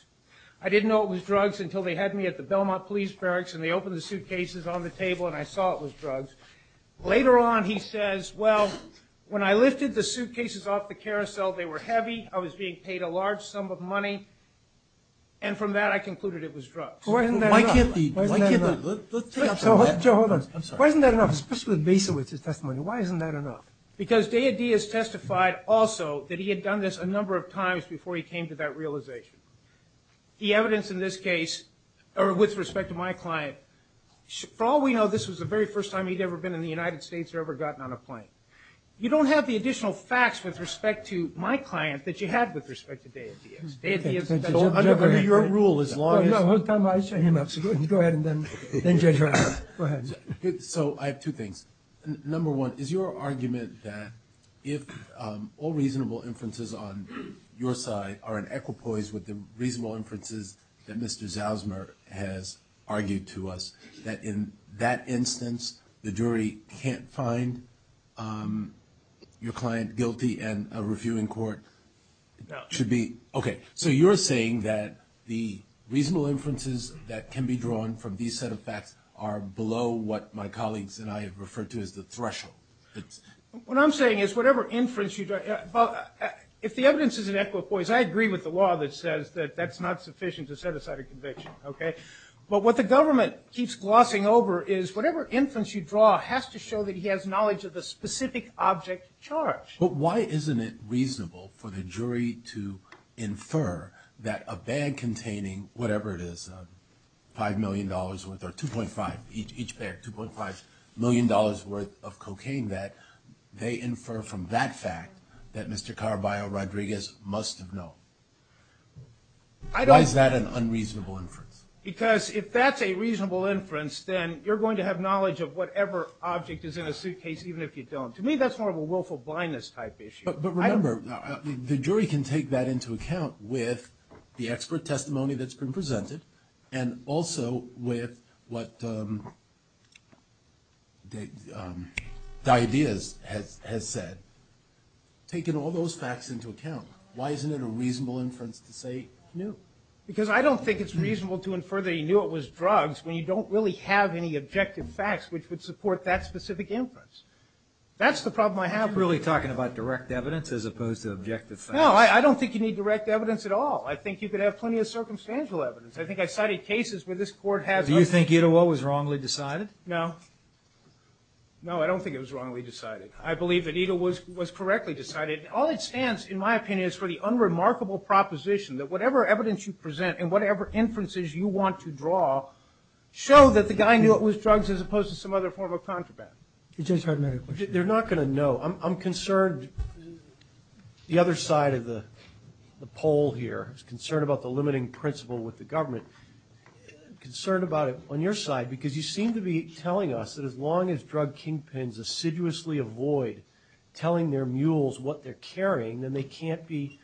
I didn't know it was drugs until they had me at the Belmont police barracks and they opened the suitcases on the table and I saw it was drugs. Later on he says, well, when I lifted the suitcases off the carousel, they were heavy, I was being paid a large sum of money, and from that I concluded it was drugs. Why isn't that enough? Why can't the, why can't the, let's take up some of that. Joe, hold on. I'm sorry. Why isn't that enough, especially with Basowitz's testimony? Why isn't that enough? Because Deideas testified also that he had done this a number of times before he came to that realization. The evidence in this case, or with respect to my client, for all we know this was the very first time he'd ever been in the United States or ever gotten on a plane. You don't have the additional facts with respect to my client that you have with respect to Deideas. Deideas is under your rule as long as... No, no. Go ahead and then Judge Roberts. Go ahead. So I have two things. Number one, is your argument that if all reasonable inferences on your side are in equipoise with the reasonable inferences that Mr. Zausmer has argued to us, that in that instance the jury can't find your client guilty and a reviewing court should be... No. Okay. So you're saying that the reasonable inferences that can be drawn from these set of facts are below what my colleagues and I have referred to as the threshold. What I'm saying is whatever inference you draw... Well, if the evidence is in equipoise, I agree with the law that says that that's not sufficient to set aside a conviction, okay? But what the government keeps glossing over is whatever inference you draw has to show that he has knowledge of the specific object charged. But why isn't it reasonable for the jury to infer that a bag containing whatever it is, $5 million worth or 2.5, each bag, $2.5 million worth of cocaine that they infer from that fact that Mr. Carballo Rodriguez must have known? Why is that an unreasonable inference? Because if that's a reasonable inference, then you're going to have knowledge of whatever object is in a suitcase even if you don't. To me, that's more of a willful blindness type issue. But remember, the jury can take that into account with the expert testimony that's been presented and also with what the ideas has said. Taking all those facts into account, why isn't it a reasonable inference to say no? Because I don't think it's reasonable to infer that he knew it was drugs when you don't really have any objective facts which would support that specific inference. That's the problem I have with it. Are you really talking about direct evidence as opposed to objective facts? No, I don't think you need direct evidence at all. I think you could have plenty of circumstantial evidence. I think I've cited cases where this Court has. Do you think it was wrongly decided? No. No, I don't think it was wrongly decided. I believe that it was correctly decided. All it stands, in my opinion, is for the unremarkable proposition that whatever evidence you present and whatever inferences you want to draw show that the guy knew it was drugs as opposed to some other form of contraband. You just heard another question. They're not going to know. I'm concerned the other side of the pole here. I'm concerned about the limiting principle with the government. I'm concerned about it on your side because you seem to be telling us that as long as drug kingpins assiduously avoid telling their mules what they're carrying, then they can't be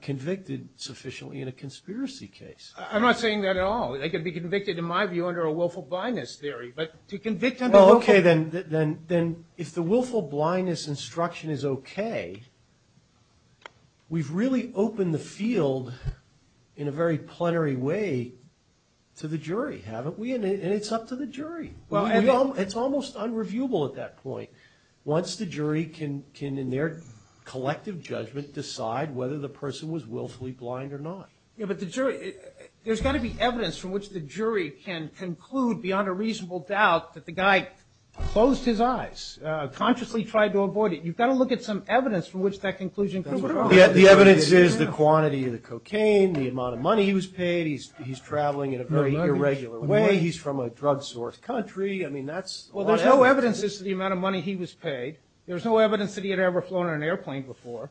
convicted sufficiently in a conspiracy case. I'm not saying that at all. They could be convicted, in my view, under a willful blindness theory. But to convict under willful blindness. Well, okay, then if the willful blindness instruction is okay, we've really opened the field in a very plenary way to the jury, haven't we? And it's up to the jury. It's almost unreviewable at that point. Once the jury can, in their collective judgment, decide whether the person was willfully blind or not. Yeah, but there's got to be evidence from which the jury can conclude beyond a reasonable doubt that the guy closed his eyes, consciously tried to avoid it. You've got to look at some evidence from which that conclusion could be wrong. The evidence is the quantity of the cocaine, the amount of money he was paid. He's traveling in a very irregular way. He's from a drug-sourced country. I mean, that's all evidence. Well, there's no evidence as to the amount of money he was paid. There's no evidence that he had ever flown on an airplane before.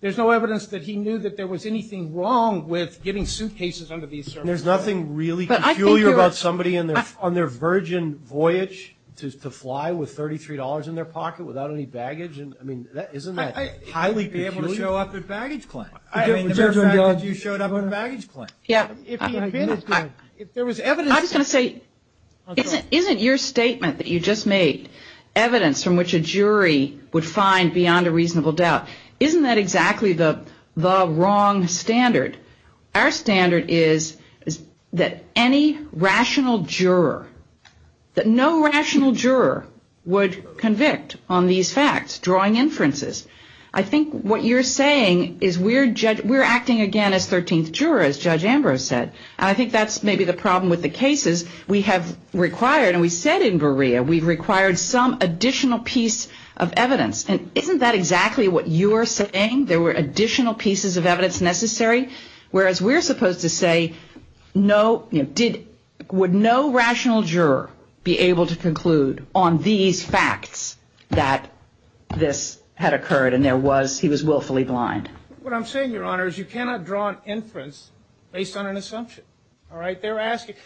There's no evidence that he knew that there was anything wrong with getting suitcases under these circumstances. There's nothing really peculiar about somebody on their virgin voyage to fly with $33 in their pocket without any baggage? I mean, isn't that highly peculiar? He may be able to show up at baggage claim. I mean, the mere fact that you showed up at baggage claim. Yeah. If he had been, if there was evidence. I was going to say, isn't your statement that you just made evidence from which a jury would find beyond a reasonable doubt, isn't that exactly the wrong standard? Our standard is that any rational juror, that no rational juror would convict on these facts, drawing inferences. I think what you're saying is we're acting again as 13th jurors, Judge Ambrose said. And I think that's maybe the problem with the cases we have required. And we said in Berea, we've required some additional piece of evidence. And isn't that exactly what you are saying? There were additional pieces of evidence necessary. Whereas we're supposed to say no, you know, did, would no rational juror be able to conclude on these facts that this had occurred and there was, he was willfully blind. What I'm saying, Your Honor, is you cannot draw an inference based on an assumption. All right. They're asking,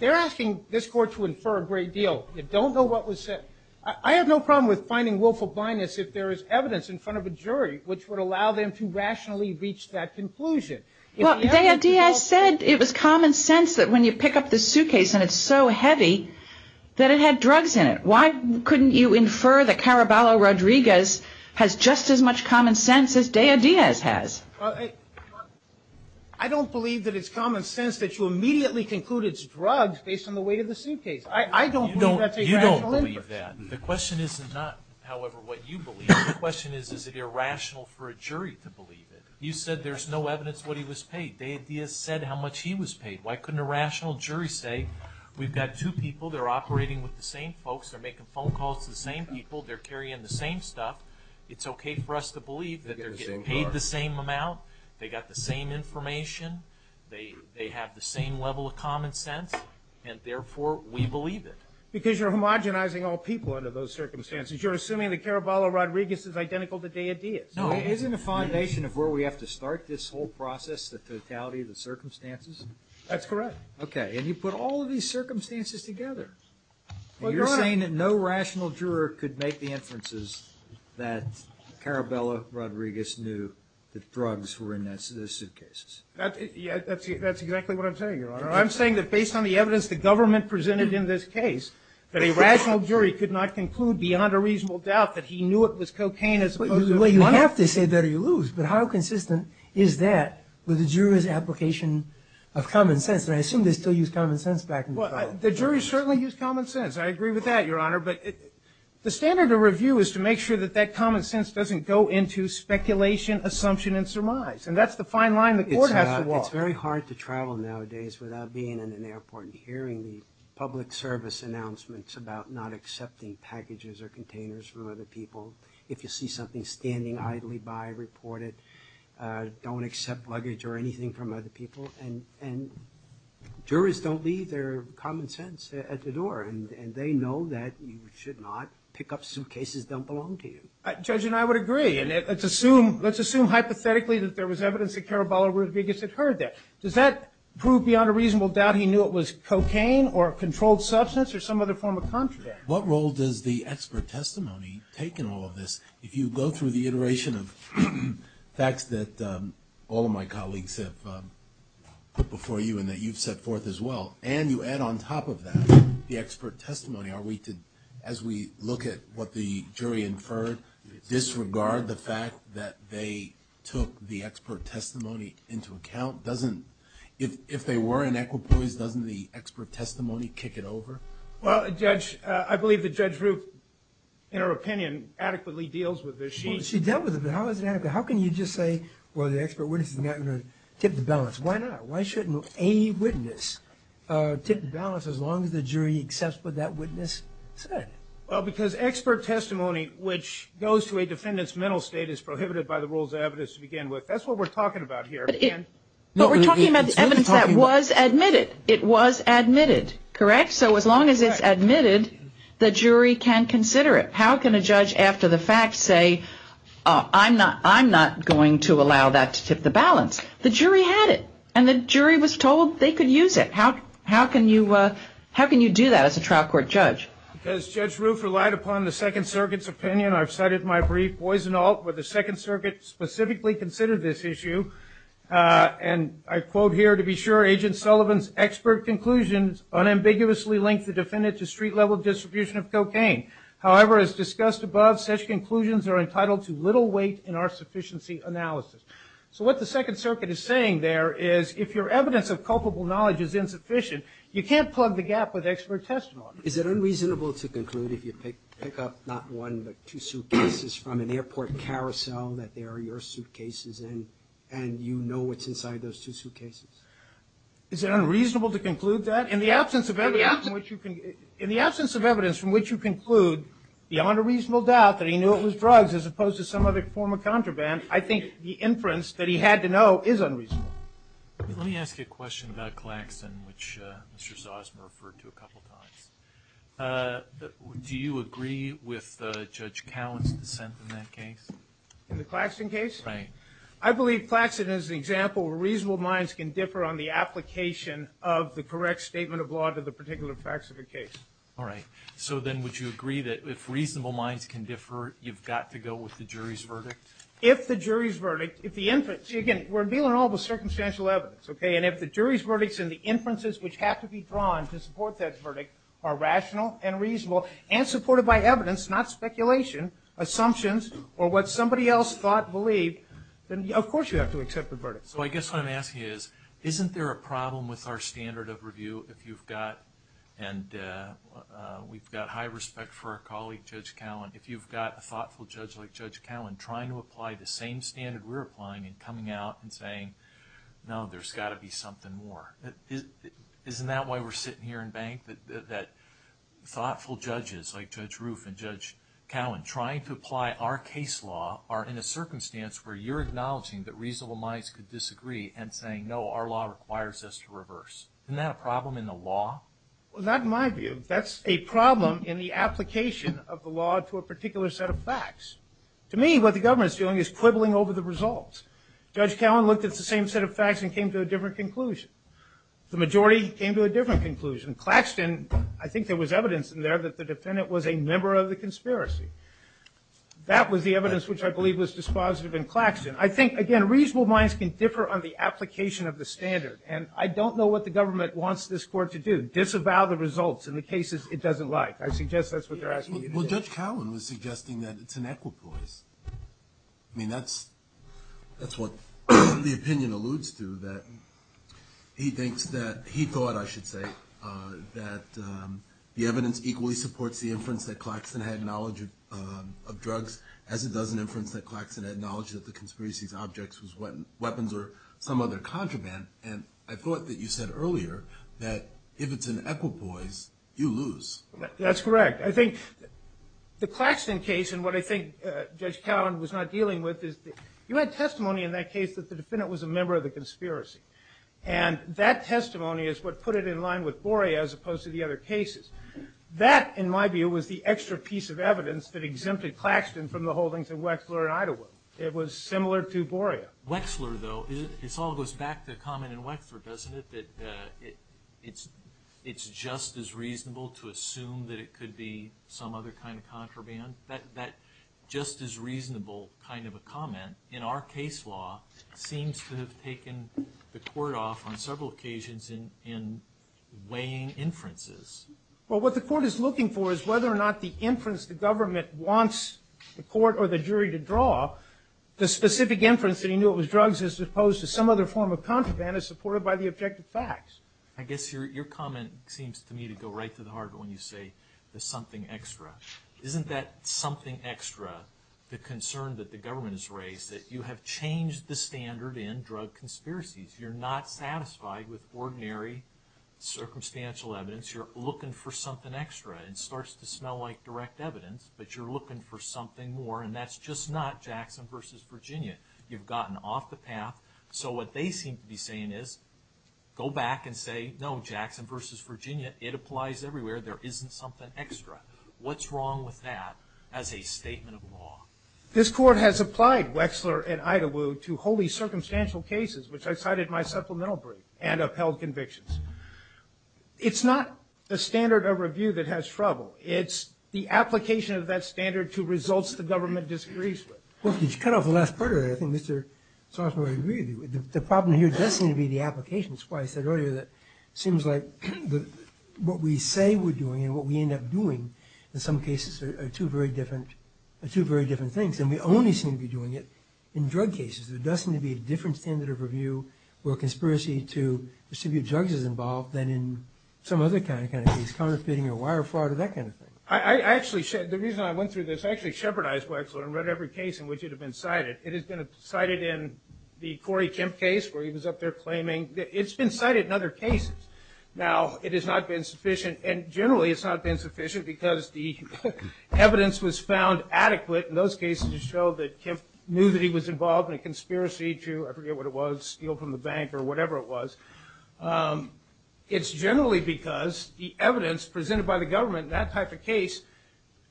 they're asking this court to infer a great deal. You don't know what was said. I have no problem with finding willful blindness if there is evidence in front of a jury which would allow them to rationally reach that conclusion. Well, Dea Diaz said it was common sense that when you pick up the suitcase and it's so heavy that it had drugs in it. Why couldn't you infer that Caraballo Rodriguez has just as much common sense as Dea Diaz has? I don't believe that it's common sense that you immediately conclude it's drugs based on the weight of the suitcase. I don't believe that's a rational inference. I don't believe that. The question is not, however, what you believe. The question is, is it irrational for a jury to believe it? You said there's no evidence what he was paid. Dea Diaz said how much he was paid. Why couldn't a rational jury say we've got two people, they're operating with the same folks, they're making phone calls to the same people, they're carrying the same stuff. It's okay for us to believe that they're getting paid the same amount, they got the same information, they have the same level of common sense, and therefore we believe it. Because you're homogenizing all people under those circumstances. You're assuming that Caraballo Rodriguez is identical to Dea Diaz. Isn't the foundation of where we have to start this whole process the totality of the circumstances? That's correct. Okay. And you put all of these circumstances together. You're saying that no rational juror could make the inferences that Caraballo Rodriguez knew that drugs were in those suitcases. That's exactly what I'm saying, Your Honor. I'm saying that based on the evidence the government presented in this case, that a rational jury could not conclude beyond a reasonable doubt that he knew it was cocaine. Well, you have to say better you lose. But how consistent is that with the jury's application of common sense? And I assume they still use common sense back in the trial. Well, the jury certainly used common sense. I agree with that, Your Honor. But the standard of review is to make sure that that common sense doesn't go into speculation, assumption, and surmise. And that's the fine line the court has to walk. It's very hard to travel nowadays without being in an airport and hearing the public service announcements about not accepting packages or containers from other people. If you see something standing idly by, report it. Don't accept luggage or anything from other people. And jurors don't leave their common sense at the door. And they know that you should not pick up suitcases that don't belong to you. Judge and I would agree. Let's assume hypothetically that there was evidence that Caraballo Rodriguez had heard that. Does that prove beyond a reasonable doubt he knew it was cocaine or a controlled substance or some other form of contraband? What role does the expert testimony take in all of this? If you go through the iteration of facts that all of my colleagues have put before you and that you've set forth as well, and you add on top of that the expert testimony, as we look at what the jury inferred, disregard the fact that they took the expert testimony into account. If they were in equipoise, doesn't the expert testimony kick it over? Well, Judge, I believe that Judge Ruth, in her opinion, adequately deals with this. She dealt with it, but how is it adequate? How can you just say, well, the expert witness is not going to tip the balance? Why not? Why would a witness tip the balance as long as the jury accepts what that witness said? Well, because expert testimony, which goes to a defendant's mental state, is prohibited by the rules of evidence to begin with. That's what we're talking about here. But we're talking about the evidence that was admitted. It was admitted, correct? So as long as it's admitted, the jury can consider it. How can a judge, after the fact, say, I'm not going to allow that to tip the balance? The jury had it, and the jury was told they could use it. How can you do that as a trial court judge? As Judge Ruth relied upon the Second Circuit's opinion, I've cited my brief. Boys and Alt, where the Second Circuit specifically considered this issue, and I quote here, to be sure, Agent Sullivan's expert conclusions unambiguously linked the defendant to street-level distribution of cocaine. However, as discussed above, such conclusions are entitled to little weight in our sufficiency analysis. So what the Second Circuit is saying there is if your evidence of culpable knowledge is insufficient, you can't plug the gap with expert testimony. Is it unreasonable to conclude, if you pick up not one but two suitcases from an airport carousel, that they are your suitcases and you know what's inside those two suitcases? Is it unreasonable to conclude that? In the absence of evidence from which you conclude, beyond a reasonable doubt, that he knew it was drugs as opposed to some other form of contraband, I think the inference that he had to know is unreasonable. Let me ask you a question about Claxton, which Mr. Zosma referred to a couple of times. Do you agree with Judge Cowen's dissent in that case? In the Claxton case? Right. I believe Claxton is an example where reasonable minds can differ on the application of the correct statement of law to the particular facts of the case. All right. So then would you agree that if reasonable minds can differ, you've got to go with the jury's verdict? If the jury's verdict, if the inference, again, we're dealing all with circumstantial evidence, okay, and if the jury's verdicts and the inferences which have to be drawn to support that verdict are rational and reasonable and supported by evidence, not speculation, assumptions, or what somebody else thought, believed, then, of course, you have to accept the verdict. So I guess what I'm asking is, isn't there a problem with our standard of review if you've got, and we've got high respect for our colleague, Judge Cowen, if you've got a thoughtful judge like Judge Cowen trying to apply the same standard we're applying and coming out and saying, no, there's got to be something more? Isn't that why we're sitting here in bank, that thoughtful judges like Judge Roof and Judge Cowen trying to apply our case law are in a circumstance where you're acknowledging that reasonable minds could disagree and saying, no, our law requires us to reverse? Isn't that a problem in the law? Well, not in my view. That's a problem in the application of the law to a particular set of facts. To me, what the government's doing is quibbling over the results. Judge Cowen looked at the same set of facts and came to a different conclusion. The majority came to a different conclusion. Claxton, I think there was evidence in there that the defendant was a member of the conspiracy. That was the evidence which I believe was dispositive in Claxton. I think, again, reasonable minds can differ on the application of the standard, and I don't know what the government wants this court to do, disavow the results in the cases it doesn't like. I suggest that's what they're asking you to do. Well, Judge Cowen was suggesting that it's an equipoise. I mean, that's what the opinion alludes to, that he thinks that he thought, I should say, that the evidence equally supports the inference that Claxton had knowledge of drugs as it does an inference that Claxton had knowledge that the conspiracy's object was weapons or some other contraband. And I thought that you said earlier that if it's an equipoise, you lose. That's correct. I think the Claxton case, and what I think Judge Cowen was not dealing with, is you had testimony in that case that the defendant was a member of the conspiracy. And that testimony is what put it in line with Borea as opposed to the other cases. That, in my view, was the extra piece of evidence that exempted Claxton from the holdings of Wexler and Idaho. It was similar to Borea. Wexler, though, it all goes back to the comment in Wexler, doesn't it, that it's just as reasonable to assume that it could be some other kind of contraband? That just as reasonable kind of a comment, in our case law, seems to have taken the court off on several occasions in weighing inferences. Well, what the court is looking for is whether or not the inference the government wants the court or the jury to draw. The specific inference that he knew it was drugs as opposed to some other form of contraband is supported by the objective facts. I guess your comment seems to me to go right to the heart of it when you say there's something extra. Isn't that something extra, the concern that the government has raised, that you have changed the standard in drug conspiracies? You're not satisfied with ordinary circumstantial evidence. You're looking for something extra. It starts to smell like direct evidence, but you're looking for something more, and that's just not Jackson v. Virginia. You've gotten off the path. So what they seem to be saying is, go back and say, no, Jackson v. Virginia, it applies everywhere. There isn't something extra. What's wrong with that as a statement of law? This court has applied Wexler and Idawo to wholly circumstantial cases, which I cited in my supplemental brief, and upheld convictions. It's not a standard of review that has trouble. It's the application of that standard to results the government disagrees with. Well, could you cut off the last part of that? I think Mr. Sarsour would agree with you. The problem here does seem to be the application. That's why I said earlier that it seems like what we say we're doing and what we end up doing, in some cases, are two very different things, and we only seem to be doing it in drug cases. There does seem to be a different standard of review or conspiracy to distribute drugs is involved than in some other kind of case, counterfeiting or wire fraud or that kind of thing. The reason I went through this, I actually shepherdized Wexler and read every case in which it had been cited. It has been cited in the Corey Kemp case where he was up there claiming. It's been cited in other cases. Now, it has not been sufficient, and generally it's not been sufficient because the evidence was found adequate in those cases to show that Kemp knew that he was involved in a conspiracy to, I forget what it was, steal from the bank or whatever it was. It's generally because the evidence presented by the government in that type of case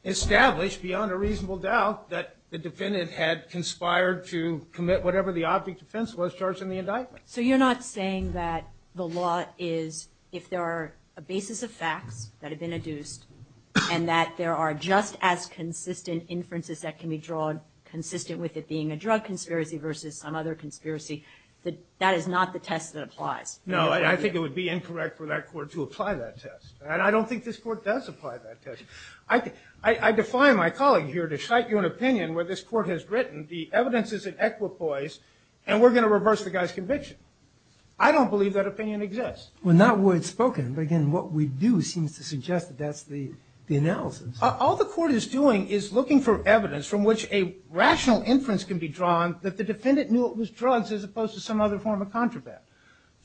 established beyond a reasonable doubt that the defendant had conspired to commit whatever the object of offense was charged in the indictment. So you're not saying that the law is, if there are a basis of facts that have been adduced and that there are just as consistent inferences that can be drawn, consistent with it being a drug conspiracy versus some other conspiracy, that that is not the test that applies? No, I think it would be incorrect for that court to apply that test. And I don't think this court does apply that test. I defy my colleague here to cite you an opinion where this court has written the evidence is an equipoise and we're going to reverse the guy's conviction. I don't believe that opinion exists. Well, not wordspoken, but again, what we do seems to suggest that that's the analysis. All the court is doing is looking for evidence from which a rational inference can be drawn that the defendant knew it was drugs as opposed to some other form of contraband.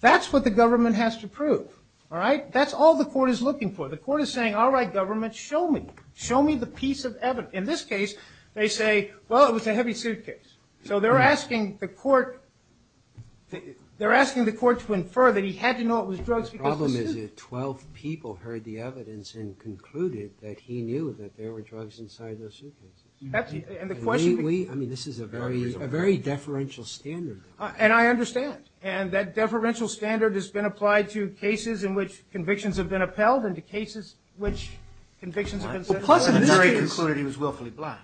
That's what the government has to prove. That's all the court is looking for. The court is saying, all right, government, show me. Show me the piece of evidence. In this case, they say, well, it was a heavy suitcase. So they're asking the court to infer that he had to know it was drugs because it was a suitcase. The problem is that 12 people heard the evidence and concluded that he knew that there were drugs inside those suitcases. I mean, this is a very deferential standard. And I understand. And that deferential standard has been applied to cases in which convictions have been upheld and to cases in which convictions have been settled. The jury concluded he was willfully blind.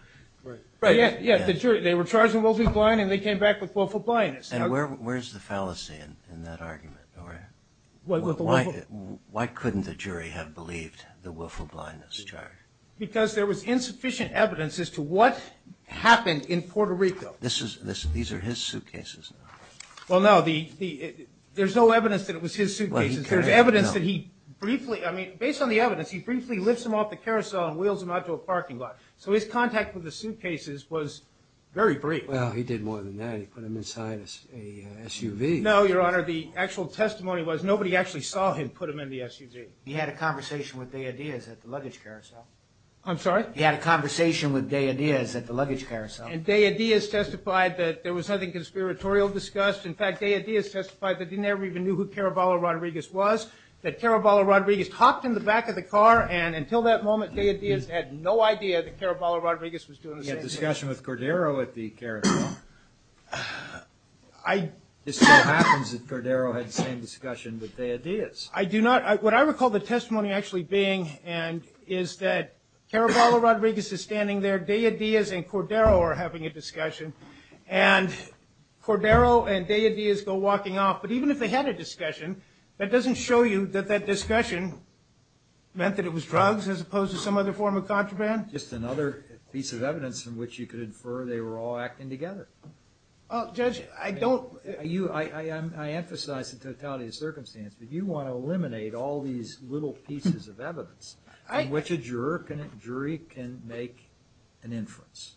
Right. Yeah, the jury, they were charged with willfully blind and they came back with willful blindness. And where's the fallacy in that argument? Why couldn't the jury have believed the willful blindness charge? Because there was insufficient evidence as to what happened in Puerto Rico. These are his suitcases. Well, no, there's no evidence that it was his suitcases. There's evidence that he briefly, I mean, based on the evidence, he briefly lifts them off the carousel and wheels them out to a parking lot. So his contact with the suitcases was very brief. Well, he did more than that. He put them inside a SUV. No, Your Honor, the actual testimony was nobody actually saw him put them in the SUV. He had a conversation with Dea Diaz at the luggage carousel. I'm sorry? He had a conversation with Dea Diaz at the luggage carousel. And Dea Diaz testified that there was nothing conspiratorial discussed. In fact, Dea Diaz testified that he never even knew who Caraballo Rodriguez was, that Caraballo Rodriguez hopped in the back of the car, and until that moment, Dea Diaz had no idea that Caraballo Rodriguez was doing the same thing. He had a discussion with Cordero at the carousel. It still happens that Cordero had the same discussion with Dea Diaz. I do not. What I recall the testimony actually being is that Caraballo Rodriguez is standing there, Dea Diaz and Cordero are having a discussion, and Cordero and Dea Diaz go walking off. But even if they had a discussion, that doesn't show you that that discussion meant that it was drugs as opposed to some other form of contraband? Just another piece of evidence in which you could infer they were all acting together. Judge, I don't. I emphasize the totality of the circumstance, but you want to eliminate all these little pieces of evidence in which a jury can make an inference.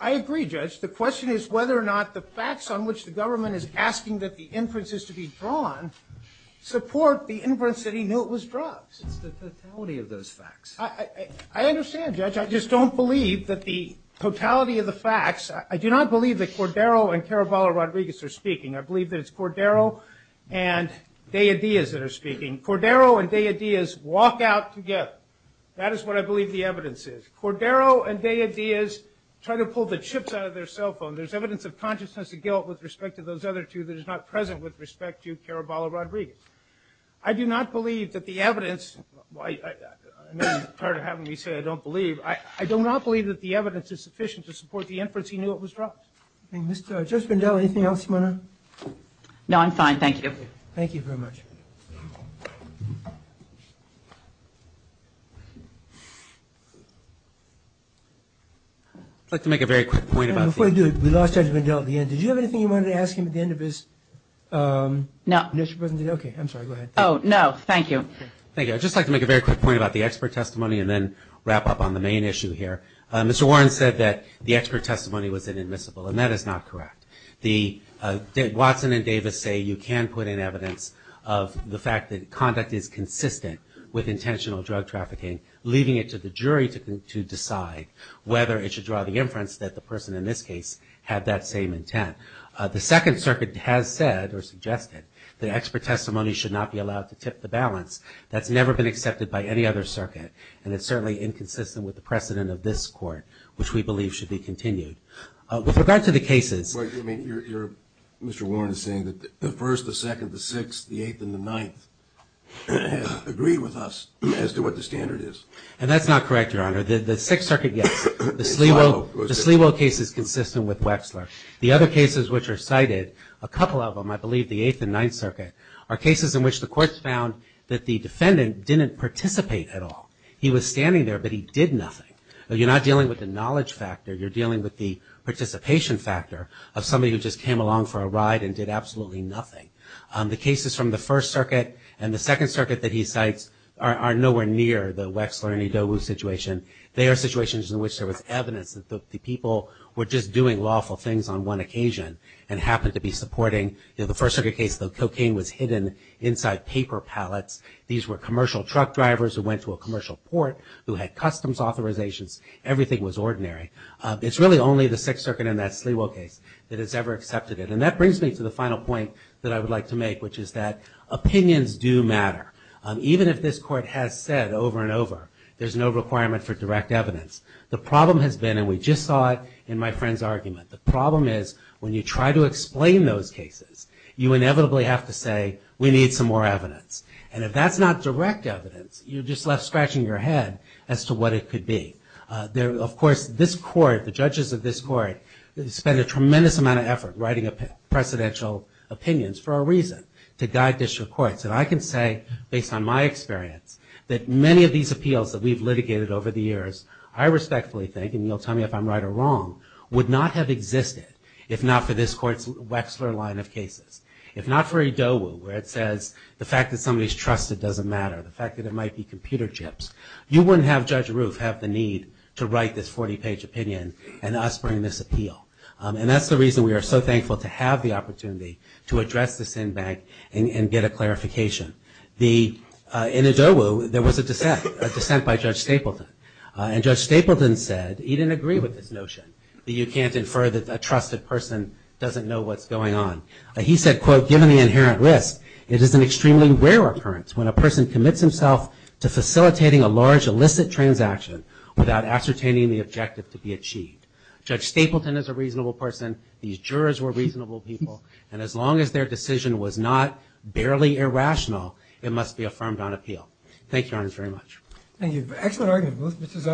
I agree, Judge. The question is whether or not the facts on which the government is asking that the inference is to be drawn support the inference that he knew it was drugs. It's the totality of those facts. I understand, Judge. I just don't believe that the totality of the facts. I do not believe that Cordero and Caraballo Rodriguez are speaking. I believe that it's Cordero and Dea Diaz that are speaking. Cordero and Dea Diaz walk out together. That is what I believe the evidence is. Cordero and Dea Diaz try to pull the chips out of their cell phone. There's evidence of consciousness and guilt with respect to those other two that is not present with respect to Caraballo Rodriguez. I do not believe that the evidence, and I'm tired of having me say I don't believe, I do not believe that the evidence is sufficient to support the inference he knew it was drugs. Thank you. Judge Bindel, anything else you want to add? No, I'm fine. Thank you. Thank you very much. I'd like to make a very quick point. Before I do, we lost Judge Bindel at the end. Did you have anything you wanted to ask him at the end of his initial presentation? No. Okay. I'm sorry. Go ahead. Oh, no. Thank you. Thank you. I'd just like to make a very quick point about the expert testimony and then wrap up on the main issue here. Mr. Warren said that the expert testimony was inadmissible, and that is not correct. Watson and Davis say you can put in evidence of the fact that conduct is consistent with intentional drug trafficking, leaving it to the jury to decide whether it should draw the inference that the person in this case had that same intent. The Second Circuit has said or suggested that expert testimony should not be allowed to tip the balance. That's never been accepted by any other circuit, and it's certainly inconsistent with the precedent of this Court, which we believe should be continued. With regard to the cases. Mr. Warren is saying that the First, the Second, the Sixth, the Eighth, and the Ninth have agreed with us as to what the standard is. And that's not correct, Your Honor. The Sixth Circuit, yes. The Sliwo case is consistent with Wexler. The other cases which are cited, a couple of them, I believe the Eighth and Ninth Circuit, are cases in which the courts found that the defendant didn't participate at all. He was standing there, but he did nothing. You're not dealing with the knowledge factor. You're dealing with the participation factor of somebody who just came along for a ride and did absolutely nothing. The cases from the First Circuit and the Second Circuit that he cites are nowhere near the Wexler and Edogu situation. They are situations in which there was evidence that the people were just doing lawful things on one occasion and happened to be supporting, you know, the First Circuit case, the cocaine was hidden inside paper pallets. These were commercial truck drivers who went to a commercial port who had customs authorizations. Everything was ordinary. It's really only the Sixth Circuit and that Sliwo case that has ever accepted it. And that brings me to the final point that I would like to make, which is that opinions do matter. Even if this Court has said over and over there's no requirement for direct evidence, the problem has been, and we just saw it in my friend's argument, the problem is when you try to explain those cases, you inevitably have to say we need some more evidence. And if that's not direct evidence, you're just left scratching your head as to what it could be. Of course, this Court, the judges of this Court, spent a tremendous amount of effort writing up precedential opinions for a reason, to guide district courts. And I can say, based on my experience, that many of these appeals that we've litigated over the years, I respectfully think, and you'll tell me if I'm right or wrong, would not have existed if not for this Court's Wexler line of cases. If not for IDOWU, where it says the fact that somebody's trusted doesn't matter, the fact that it might be computer chips, you wouldn't have Judge Roof have the need to write this 40-page opinion and us bring this appeal. And that's the reason we are so thankful to have the opportunity to address this in bank and get a clarification. In IDOWU, there was a dissent, a dissent by Judge Stapleton. And Judge Stapleton said he didn't agree with this notion that you can't infer that a trusted person doesn't know what's going on. He said, quote, given the inherent risk, it is an extremely rare occurrence when a person commits himself to facilitating a large illicit transaction without ascertaining the objective to be achieved. Judge Stapleton is a reasonable person. These jurors were reasonable people. And as long as their decision was not barely irrational, it must be affirmed on appeal. Thank you, Your Honor, very much. Thank you. Excellent argument.